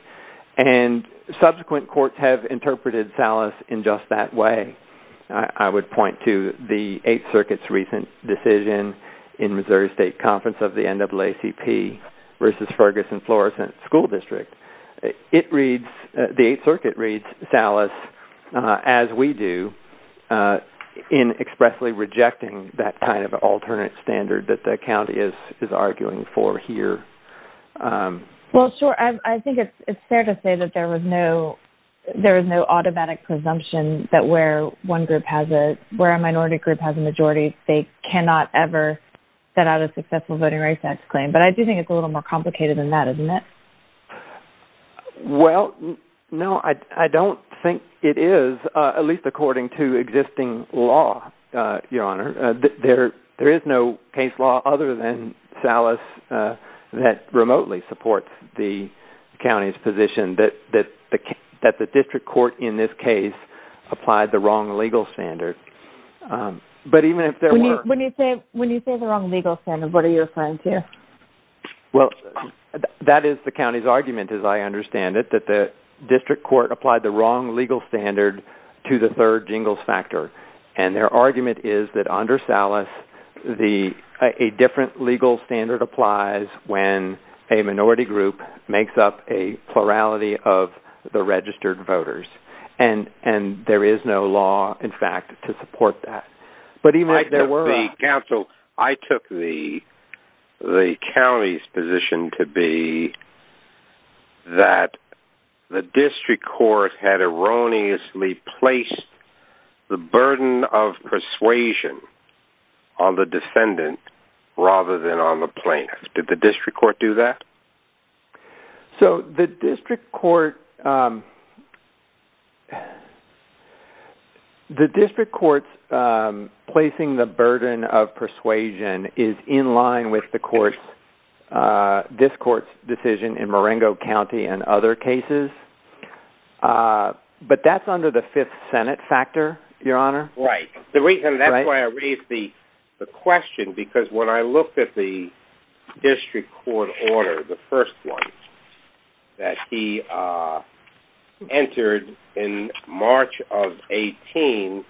Subsequent courts have interpreted Salas in just that way. I would point to the Eighth Circuit's recent decision in Missouri State Conference of the NAACP versus Ferguson Florissant School District. The Eighth Circuit reads Salas as we do in expressly rejecting that kind of alternate standard that the county is arguing for here. Well, sure, I think it's fair to say that there was no automatic presumption that where a minority group has a majority, they cannot ever set out a successful voting rights claim, but I do think it's a little more complicated than that, isn't it? Well, no, I don't think it is, at least according to existing law, Your Honor. There is no case law other than Salas that remotely supports the county's position that the district court in this case applied the wrong legal standard, but even if there were... When you say the wrong legal standard, what are you referring to? Well, that is the county's argument, as I understand it, that the district court applied the wrong legal standard to the third jingles factor, and their argument is that under Salas, a different legal standard applies when a minority group makes up a plurality of the registered voters, and there is no law, in fact, to support that. But even if there were... Counsel, I took the county's position to be that the district court had erroneously placed the burden of persuasion on the descendant rather than on the plaintiff. Did the district court do that? So, the district court's placing the burden of persuasion is in line with the court's... this court's decision in Marengo County and other cases, but that's under the Fifth Senate factor, Your Honor. Right. The reason... That's why I raised the question, because when I looked at the district court order, the first one, that he entered in March of 18,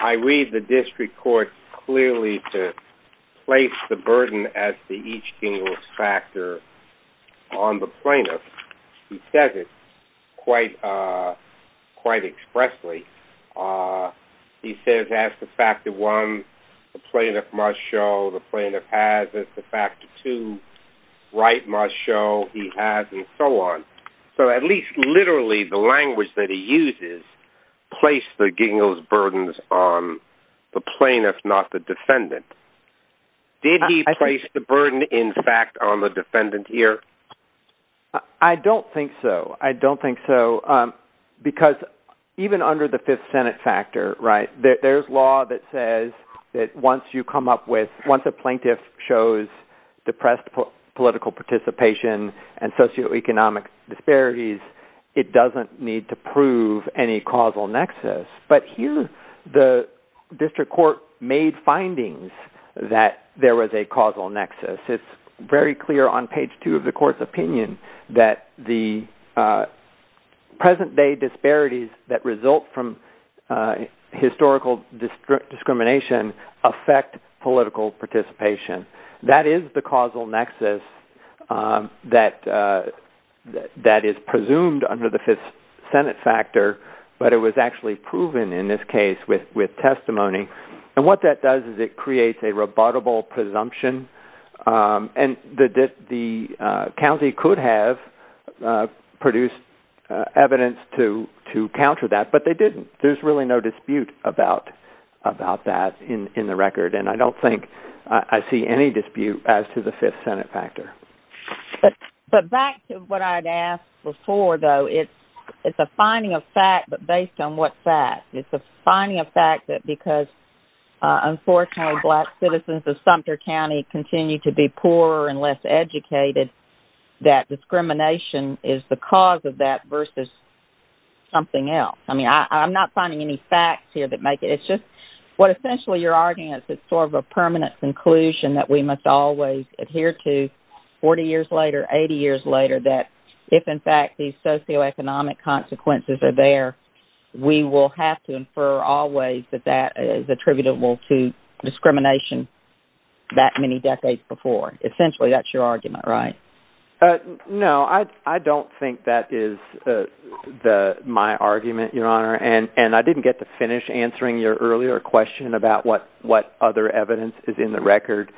I read the district court clearly to place the burden as to each jingles factor on the plaintiff. He says that's the factor one, the plaintiff must show, the plaintiff has, it's the factor two, right, must show, he has, and so on. So, at least literally, the language that he uses placed the jingles burdens on the plaintiff, not the defendant. Did he place the burden, in fact, on the defendant here? I don't think so. I don't think so, because even under the Fifth Senate factor, right, there's law that says that once you come up with... once a plaintiff shows depressed political participation and socio-economic disparities, it doesn't need to prove any causal nexus. But here, the district court made findings that there was a causal nexus. It's very clear on page two of the court's opinion that the present-day disparities that result from historical discrimination affect political participation. That is the causal nexus that is presumed under the Fifth Senate factor, but it was actually proven in this case with testimony. And what that does is it creates a rebuttable presumption, and the district court produced evidence to counter that, but they didn't. There's really no dispute about that in the record, and I don't think I see any dispute as to the Fifth Senate factor. But back to what I'd asked before, though, it's a finding of fact, but based on what fact? It's a finding of fact that because, unfortunately, black citizens of Sumter County continue to be poorer and less educated, that discrimination is the cause of that versus something else. I mean, I'm not finding any facts here that make it. It's just what essentially your argument is, it's sort of a permanent conclusion that we must always adhere to 40 years later, 80 years later, that if, in fact, these socio-economic consequences are there, we will have to infer always that that is attributable to No, I don't think that is my argument, Your Honor, and I didn't get to finish answering your earlier question about what other evidence is in the record.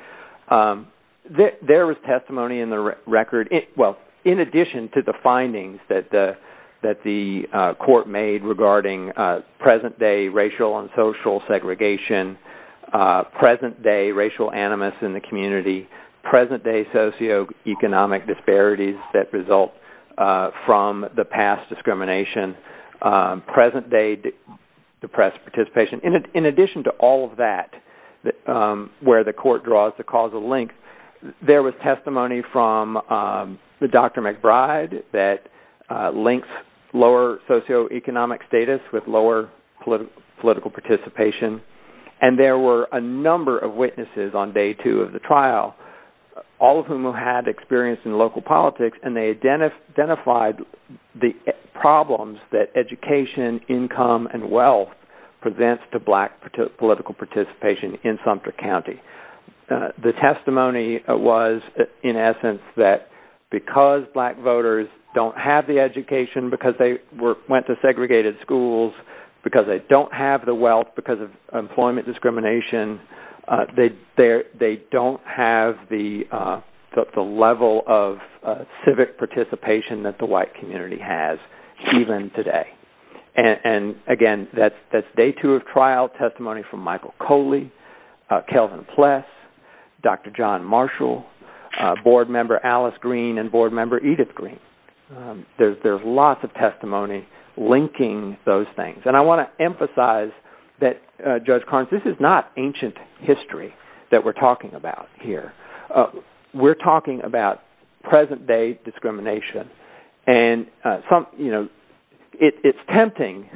There was testimony in the record, well, in addition to the findings that the court made regarding present-day racial and social segregation, present-day racial animus in the community, present-day socio-economic disparities that result from the past discrimination, present-day depressed participation. In addition to all of that, where the court draws the causal link, there was testimony from the Dr. McBride that links lower socio-economic status with lower political participation, and there were a number of witnesses on day two of the trial, all of whom had experience in local politics, and they identified the problems that education, income, and wealth presents to black political participation in Sumter County. The testimony was, in essence, that because black voters don't have the education, because they went to segregated schools, because they don't have the wealth because of employment discrimination, they don't have the level of civic participation that the white community has even today. And again, that's day two of trial, testimony from Michael Coley, Kelvin Pless, Dr. John Marshall, board member Alice Green, and board member Edith Green. There's lots of testimony linking those things, and I want to emphasize that, Judge Carnes, this is not ancient history that we're talking about here. We're talking about present-day discrimination, and, you know, it's tempting,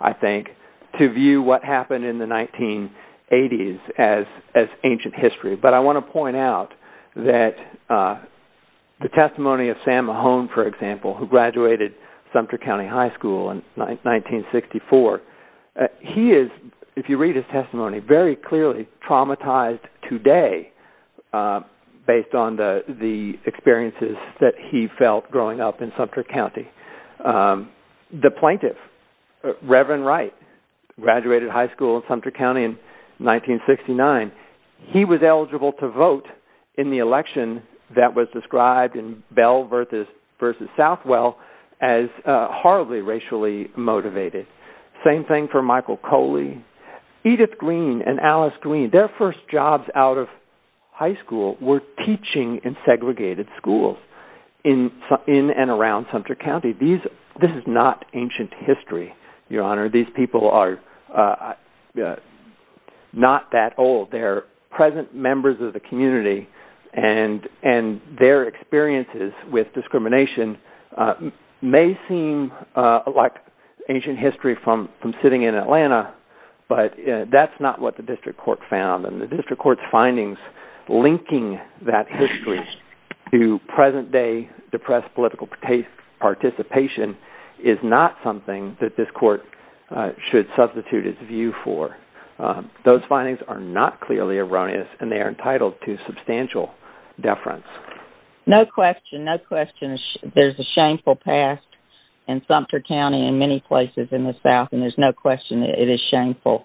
I think, to view what happened in the 1980s as ancient history, but I want to point out that the testimony of Sam Mahone, for example, who graduated Sumter County High School in 1964, he is, if you read his testimony, very clearly traumatized today based on the experiences that he felt growing up in Sumter County. The plaintiff, Reverend Wright, graduated high school in Sumter County in 1969. He was elected that was described in Bell versus Southwell as horribly racially motivated. Same thing for Michael Coley. Edith Green and Alice Green, their first jobs out of high school were teaching in segregated schools in and around Sumter County. This is not ancient history, Your Honor. These people are not that old. They're present members of the community, and their experiences with discrimination may seem like ancient history from sitting in Atlanta, but that's not what the district court found, and the district court's findings linking that history to present-day depressed political participation is not something that this court should substitute its view for. Those findings are not clearly erroneous, and they are entitled to substantial deference. No question, no question, there's a shameful past in Sumter County and many places in the South, and there's no question it is shameful.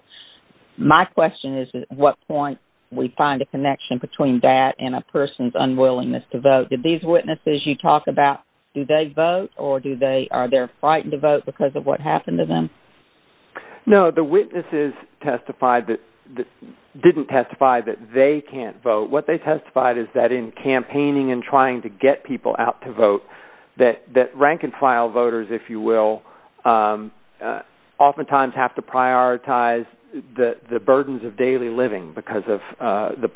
My question is at what point we find a connection between that and a witness. Do those witnesses you talk about, do they vote, or are they frightened to vote because of what happened to them? No, the witnesses didn't testify that they can't vote. What they testified is that in campaigning and trying to get people out to vote, that rank-and-file voters, if you will, oftentimes have to prioritize the burdens of daily living because of the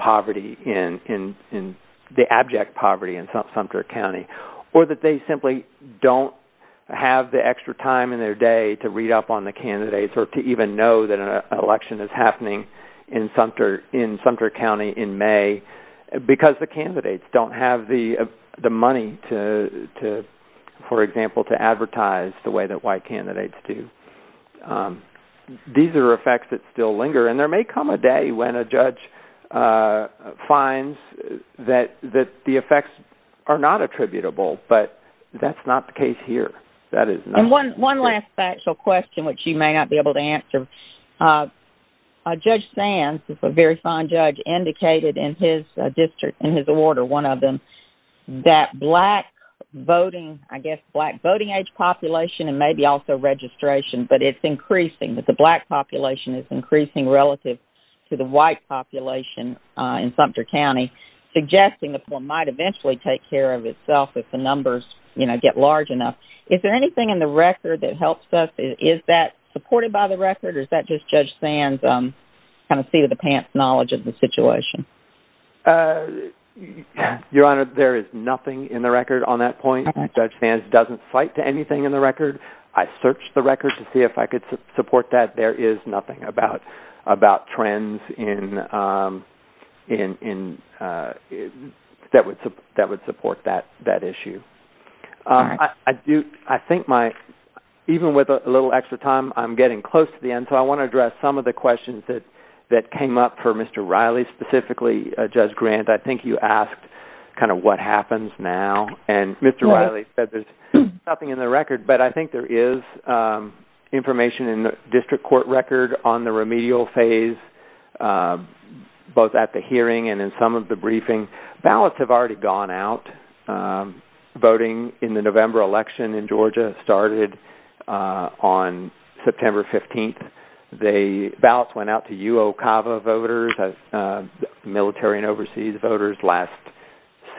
abject poverty in Sumter County, or that they simply don't have the extra time in their day to read up on the candidates or to even know that an election is happening in Sumter County in May because the candidates don't have the money, for example, to advertise the way that white candidates do. These are effects that still linger, and there may come a day when a judge finds that the effects are not attributable, but that's not the case here. One last factual question which you may not be able to answer. Judge Sands, a very fine judge, indicated in his district, in his order, one of them, that black voting, I guess, black voting age population and maybe also registration, but it's increasing, that the black population is increasing relative to the white population in Sumter County, suggesting the poor might eventually take care of itself if the numbers, you know, get large enough. Is there anything in the record that helps us? Is that supported by the record or is that just Judge Sands' kind of seat-of-the-pants knowledge of the situation? Your Honor, there is nothing in the record on that point. Judge Sands doesn't fight to anything in the record. I searched the record to see if I could support that. There is nothing about trends that would support that issue. I do, I think my, even with a little extra time, I'm getting close to the end, so I want to address some of the questions that came up for Mr. Riley specifically, Judge Grant. I think you asked kind of what happens now, and Mr. Riley said there's nothing in the record, but I think there is information in the district court record on the remedial phase, both at the hearing and in some of the briefing. Ballots have already gone out. Voting in the November election in Georgia started on September 15th. The ballots went out to UOCAVA voters, military and overseas voters, last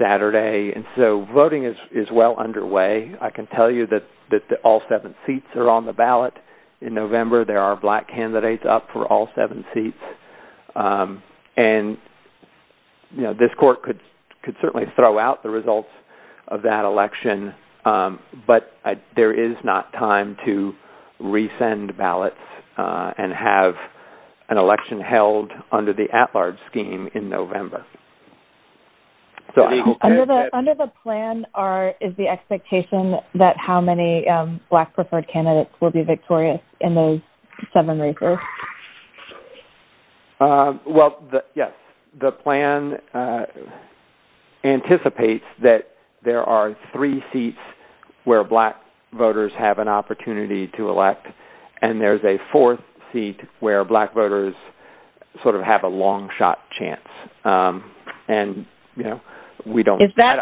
Saturday, and so voting is well underway. I can tell you that all seven seats are on the ballot. In November, there are black candidates up for all seven seats, and you know, this court could certainly throw out the results of that election, but there is not time to resend ballots and have an election held under the At-Large scheme in November. Under the plan is the expectation that how many black preferred candidates will be victorious in those seven races? Well, yes, the plan anticipates that there are three seats where black voters have an opportunity to elect, and there's a fourth seat where black voters sort of have a long-shot chance, and you know, we don't... Is that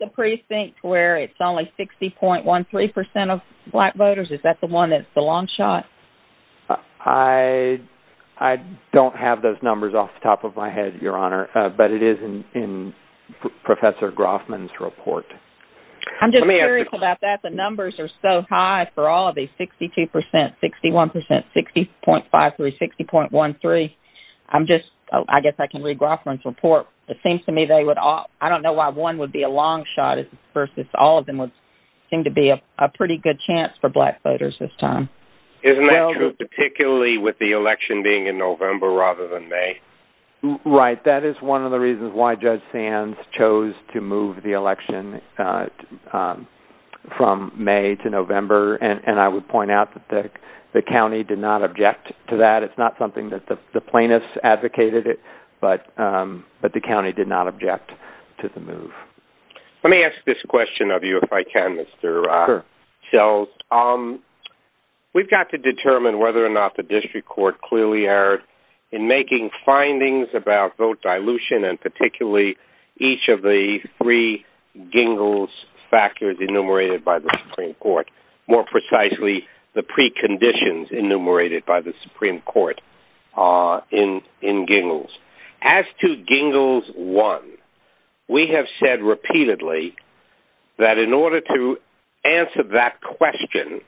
the precinct where it's only 60.13% of black voters? Is that the one that's the long shot? I don't have those numbers off the top of my head, Your Honor, but it is in Professor Groffman's report. I'm just curious about that. The numbers are so high for all of these 62%, 61%, 60.53, 60.13. I'm just... I guess I can read Groffman's report. It seems to me they would all... I don't know why one would be a long shot versus all of them would seem to be a pretty good chance for black voters this time. Isn't that true particularly with the election being in November rather than May? Right, that is one of the reasons why Judge Sands chose to move the election from May to November, and I would point out that the county did not object to that. It's not something that the plaintiffs advocated it, but the county did not object to the move. Let me ask this question of you if I can, Mr. Sells. We've got to determine whether or not the district court clearly erred in making findings about vote dilution and particularly each of the three Gingell's factors enumerated by the Supreme Court. More precisely, the preconditions enumerated by the Supreme Court in Gingell's. As to Gingell's one, we have said repeatedly that in order to answer that question,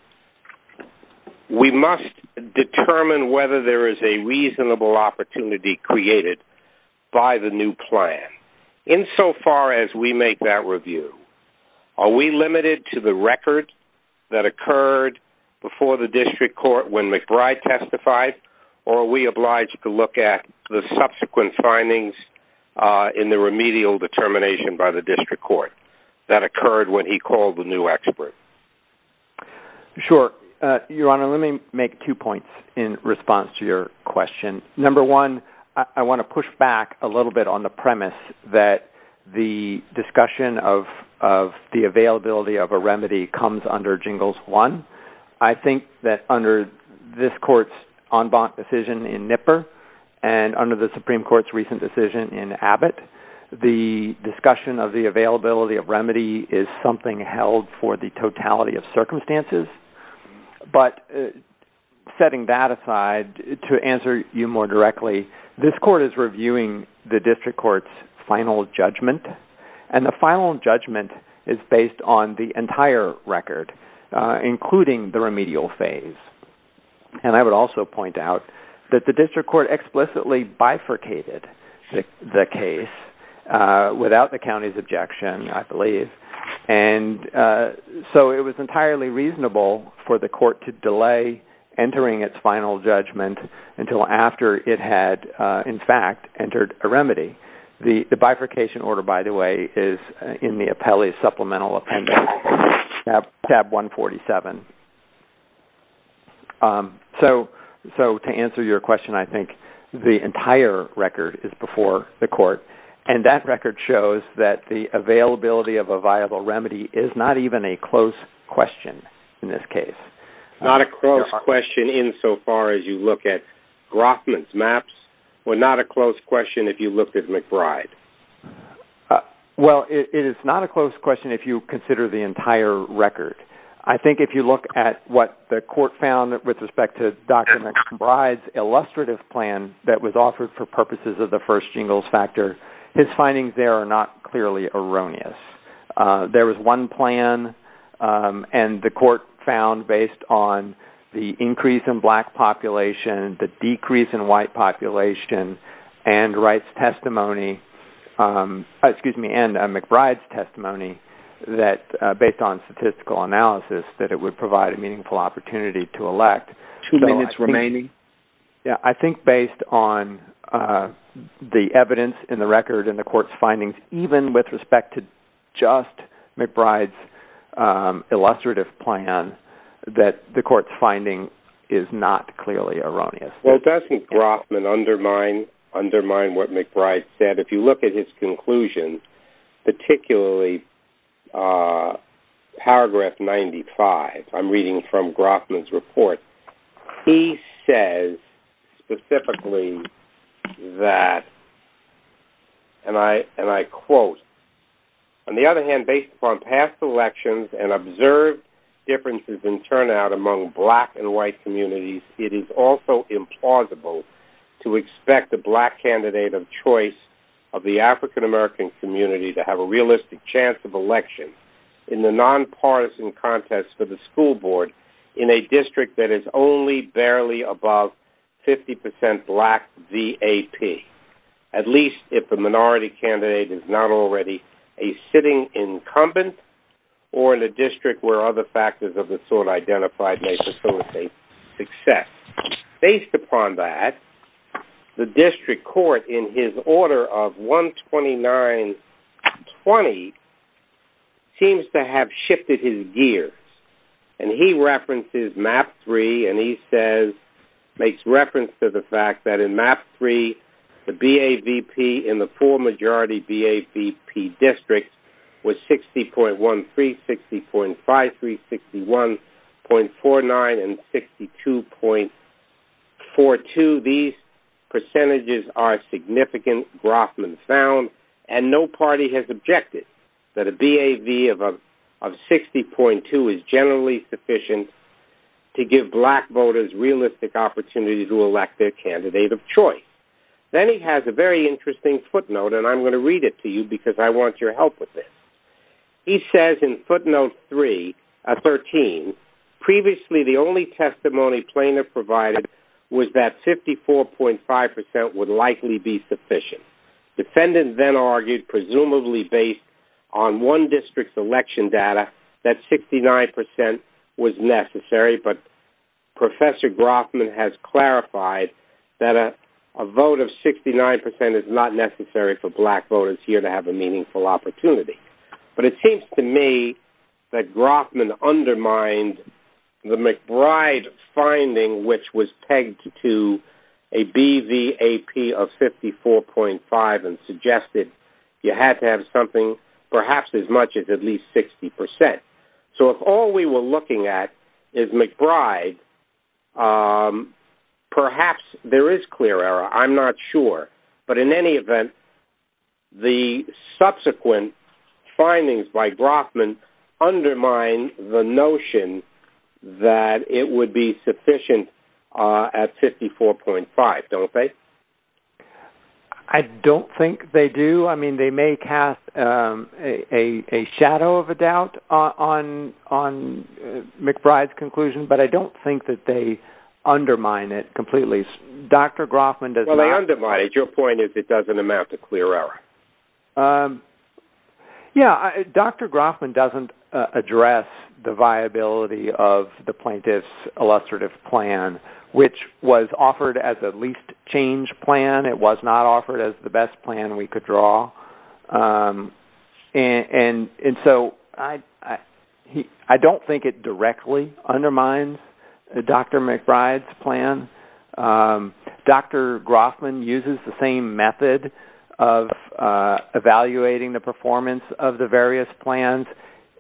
we must determine whether there is a reasonable opportunity created by the new plan. In so far as we make that review, are we limited to the record that occurred before the district court when McBride testified, or are we obliged to look at the subsequent findings in the remedial determination by the district court that occurred when he called the new expert? Sure, Your Honor, let me make two points in response to your question. Number one, I want to push back a little bit on the premise that the discussion of the availability of a remedy is under Gingell's one. I think that under this court's en banc decision in Nipper and under the Supreme Court's recent decision in Abbott, the discussion of the availability of remedy is something held for the totality of circumstances. But setting that aside, to answer you more directly, this court is reviewing the district court's final judgment, and the final judgment is based on the entire record, including the remedial phase. And I would also point out that the district court explicitly bifurcated the case without the county's objection, I believe, and so it was entirely reasonable for the court to delay entering its final judgment until after it had, in fact, entered a remedy. The bifurcation order, by the way, is in the appellee's supplemental appendix, tab 147. So to answer your question, I think the entire record is before the court, and that record shows that the availability of a viable remedy is not even a close question in this case. Not a close question insofar as you look at McBride. Well, it is not a close question if you consider the entire record. I think if you look at what the court found with respect to Dr. McBride's illustrative plan that was offered for purposes of the first jingles factor, his findings there are not clearly erroneous. There was one plan, and the court found, based on the increase in black population, the decrease in white population, and McBride's testimony that, based on statistical analysis, that it would provide a meaningful opportunity to elect. Two minutes remaining. Yeah, I think based on the evidence in the record and the court's findings, even with respect to just McBride's illustrative plan, that the court's finding is not clearly erroneous. Well, doesn't Groffman undermine what McBride said? If you look at his conclusion, particularly paragraph 95, I'm reading from Groffman's report, he says specifically that, and I quote, on the other hand, based upon past elections and observed differences in among black and white communities, it is also implausible to expect a black candidate of choice of the African-American community to have a realistic chance of election in the nonpartisan contest for the school board in a district that is only barely above 50% black VAP, at least if the minority candidate is not already a sitting incumbent or in a district where other factors of the sort identified may facilitate success. Based upon that, the district court, in his order of 129-20, seems to have shifted his gear, and he references MAP-3, and he says, makes reference to the fact that in MAP-3, the majority VAPP district was 60.13, 60.53, 61.49, and 62.42. These percentages are significant, Groffman found, and no party has objected that a BAV of 60.2 is generally sufficient to give black voters realistic opportunity to elect their candidate of choice. Then he has a very interesting footnote, and I'm going to read it to you because I want your help with this. He says in footnote 13, previously the only testimony Plano provided was that 54.5% would likely be sufficient. Defendants then argued, presumably based on one district's election data, that 69% was necessary, but Professor Groffman has clarified that a vote of 69% is not necessary for black voters here to have a meaningful opportunity. But it seems to me that Groffman undermined the McBride finding, which was pegged to a BVAP of 54.5 and suggested you had to have something perhaps as much as at least 60%. So if all we were looking at is perhaps there is clear error, I'm not sure, but in any event the subsequent findings by Groffman undermine the notion that it would be sufficient at 54.5, don't they? I don't think they do. I mean they may cast a shadow of a doubt on McBride's conclusion, but I don't think that they undermine it completely. Dr. Groffman does not. Well they undermine it. Your point is it doesn't amount to clear error. Yeah, Dr. Groffman doesn't address the viability of the plaintiff's illustrative plan, which was offered as a least change plan. It was not offered as the best plan we could draw. And so I don't think it directly undermines Dr. McBride's plan. Dr. Groffman uses the same method of evaluating the performance of the various plans.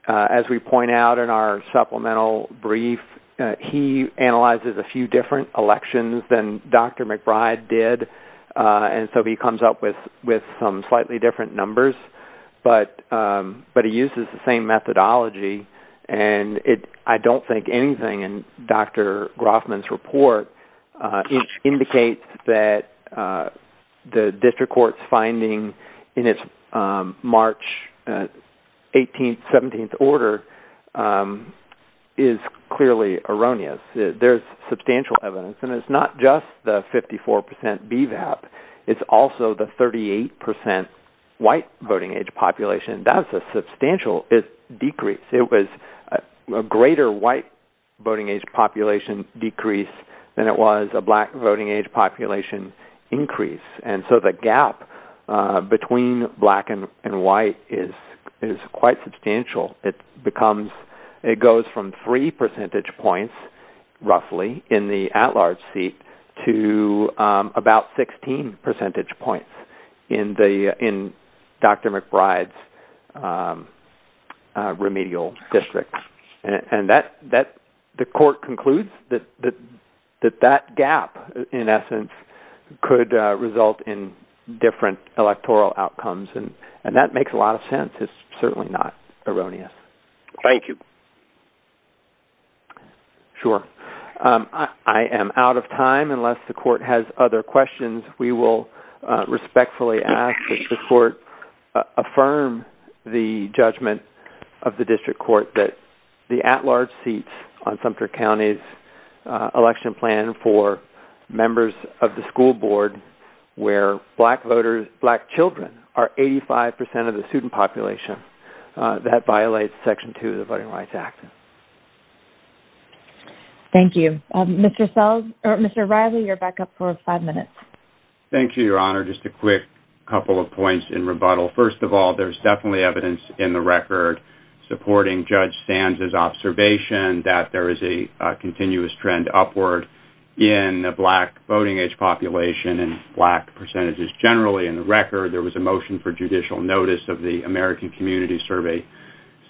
As we point out in our supplemental brief, he analyzes a few different elections than Dr. McBride did, and so he comes up with some slightly different numbers. But he uses the same methodology, and I don't think anything in Dr. Groffman's report indicates that the district court's in its March 18th, 17th order is clearly erroneous. There's substantial evidence, and it's not just the 54% BVAP. It's also the 38% white voting age population. That's a substantial decrease. It was a greater white voting age population decrease than it was a black voting age population increase. And so the gap between black and white is quite substantial. It goes from three percentage points, roughly, in the at-large seat to about 16 percentage points in Dr. McBride's remedial districts. And the court concludes that that gap, in essence, could result in different electoral outcomes. And that makes a lot of sense. It's certainly not erroneous. Thank you. Sure. I am out of time. Unless the court has other questions, we will respectfully ask that the court affirm the judgment of the district court that the at-large seats on Sumter County's election plan for members of the school board where black voters, black children, are 85% of the student population. That violates Section 2 of the Voting Rights Act. Thank you. Mr. Riley, you're back up for five minutes. Thank you, Your Honor. Just a quick couple of points in rebuttal. First of all, there's definitely evidence in the record supporting Judge Sands' observation that there is a continuous trend upward in the black voting-age population and black percentages generally. In the record, there was a motion for judicial notice of the American Community Survey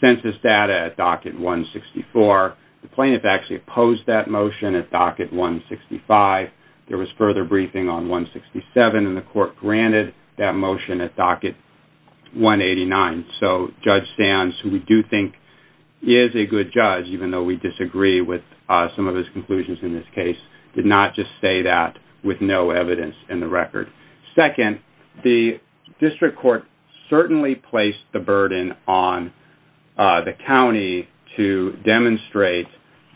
census data at Docket 164. The plaintiff actually opposed that motion at Docket 165. There was further briefing on 167, and the court granted that motion at Docket 189. Judge Sands, who we do think is a good judge, even though we disagree with some of his conclusions in this case, did not just say that with no evidence in the record. Second, the district court certainly placed the burden on the county to demonstrate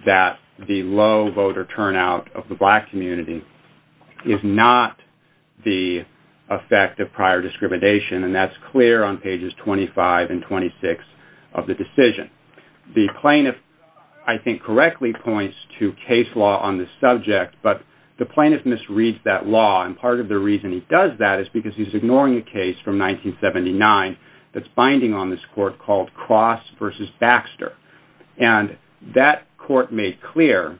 that the low voter turnout of the black community is not the effect of prior discrimination, and that's clear on pages 25 and 26 of the decision. The plaintiff, I think, correctly points to case law on this subject, but the plaintiff misreads that law, and part of the reason he does that is because he's ignoring the case from 1979 that's binding on this court called Cross v. Baxter. And that court made clear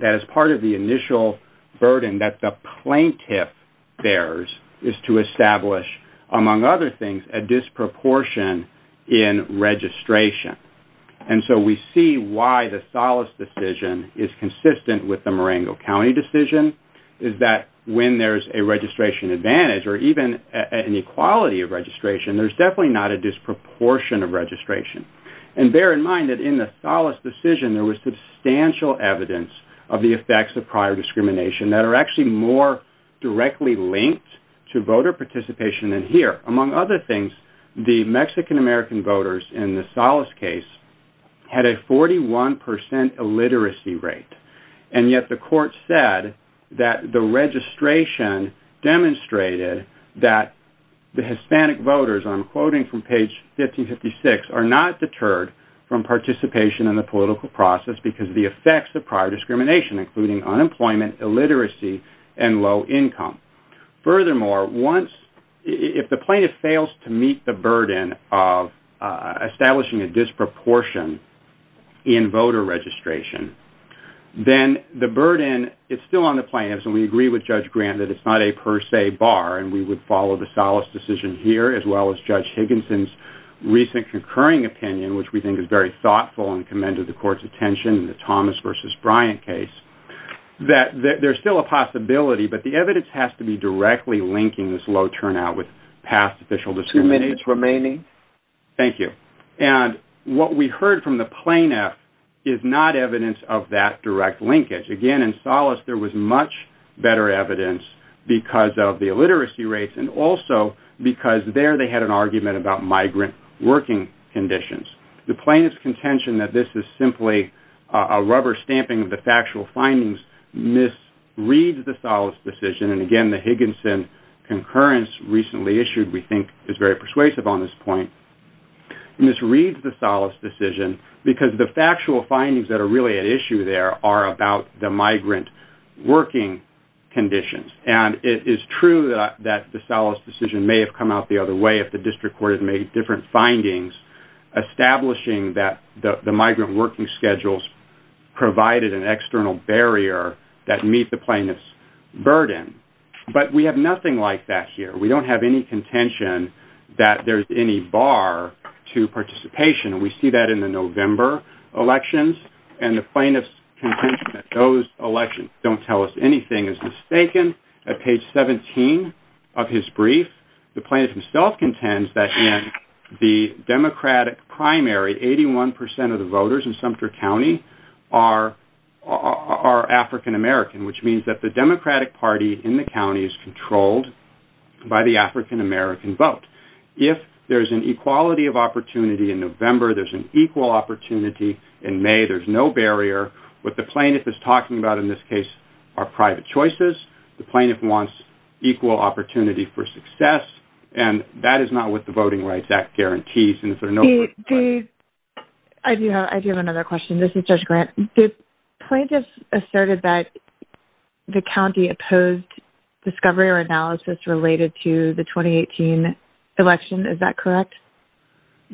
that as part of the initial burden that the plaintiff bears is to establish, among other things, a disproportion in registration. And so we see why the Salas decision is consistent with the Marengo County decision, is that when there's a registration advantage or even an equality of registration, there's definitely not a disproportion of registration. And bear in mind that in the Salas decision, there was substantial evidence of the effects of prior discrimination that are actually more directly linked to voter participation than here. Among other things, the Mexican-American voters in the Salas case had a 41% illiteracy rate, and yet the court said that the registration demonstrated that the Hispanic voters, I'm quoting from page 1556, are not deterred from participation in the political process because of the effects of prior discrimination, including unemployment, illiteracy, and low income. Furthermore, once, if the plaintiff fails to meet the burden of establishing a disproportion in voter registration, then the burden is still on the plaintiffs, and we agree with Judge Grant that it's not a per se bar, and we would follow the Salas decision here, as well as Judge Higginson's recent concurring opinion, which we think is very thoughtful and there's still a possibility, but the evidence has to be directly linking this low turnout with past official discrimination. Two minutes remaining. Thank you. And what we heard from the plaintiff is not evidence of that direct linkage. Again, in Salas, there was much better evidence because of the illiteracy rates, and also because there they had an argument about migrant working conditions. The plaintiff's intention that this is simply a rubber stamping of the factual findings misreads the Salas decision, and again, the Higginson concurrence recently issued, we think is very persuasive on this point, misreads the Salas decision because the factual findings that are really at issue there are about the migrant working conditions, and it is true that the Salas decision may have come out the other way if the district court has made different findings establishing that the migrant working schedules provided an external barrier that meets the plaintiff's burden, but we have nothing like that here. We don't have any contention that there's any bar to participation, and we see that in the November elections, and the plaintiff's contention that those elections don't tell us anything is mistaken. At page 17 of his brief, the plaintiff himself contends that the Democratic primary, 81% of the voters in Sumter County are African-American, which means that the Democratic Party in the county is controlled by the African-American vote. If there's an equality of opportunity in November, there's an equal opportunity in May, there's no barrier. What the plaintiff is talking about in this case are private choices. The plaintiff wants equal opportunity for success, and that is not what the Voting Rights Act guarantees. I do have another question. This is Judge Grant. The plaintiff asserted that the county opposed discovery or analysis related to the 2018 election. Is that correct?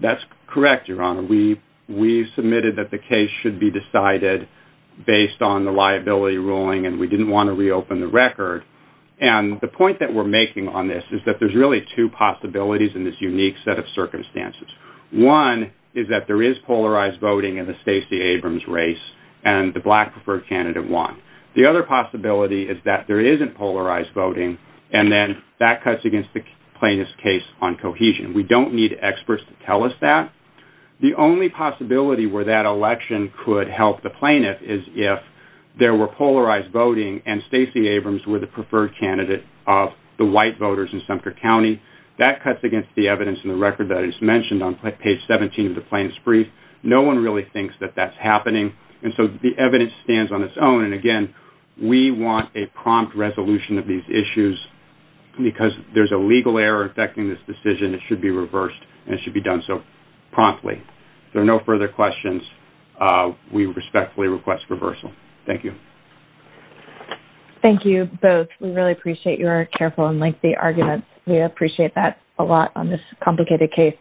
That's correct, Your Honor. We submitted that the case should be decided based on the liability ruling, and we didn't want to make it on this. There's really two possibilities in this unique set of circumstances. One is that there is polarized voting in the Stacey Abrams race, and the black preferred candidate won. The other possibility is that there isn't polarized voting, and then that cuts against the plaintiff's case on cohesion. We don't need experts to tell us that. The only possibility where that election could help the plaintiff is if there were polarized voting and Stacey White voters in Sumter County. That cuts against the evidence in the record that is mentioned on page 17 of the plaintiff's brief. No one really thinks that that's happening, and so the evidence stands on its own, and again, we want a prompt resolution of these issues because there's a legal error affecting this decision that should be reversed, and it should be done so promptly. There are no further questions. We respectfully request reversal. Thank you. Thank you both. We really appreciate your careful and lengthy arguments. We appreciate that a lot on this complicated case.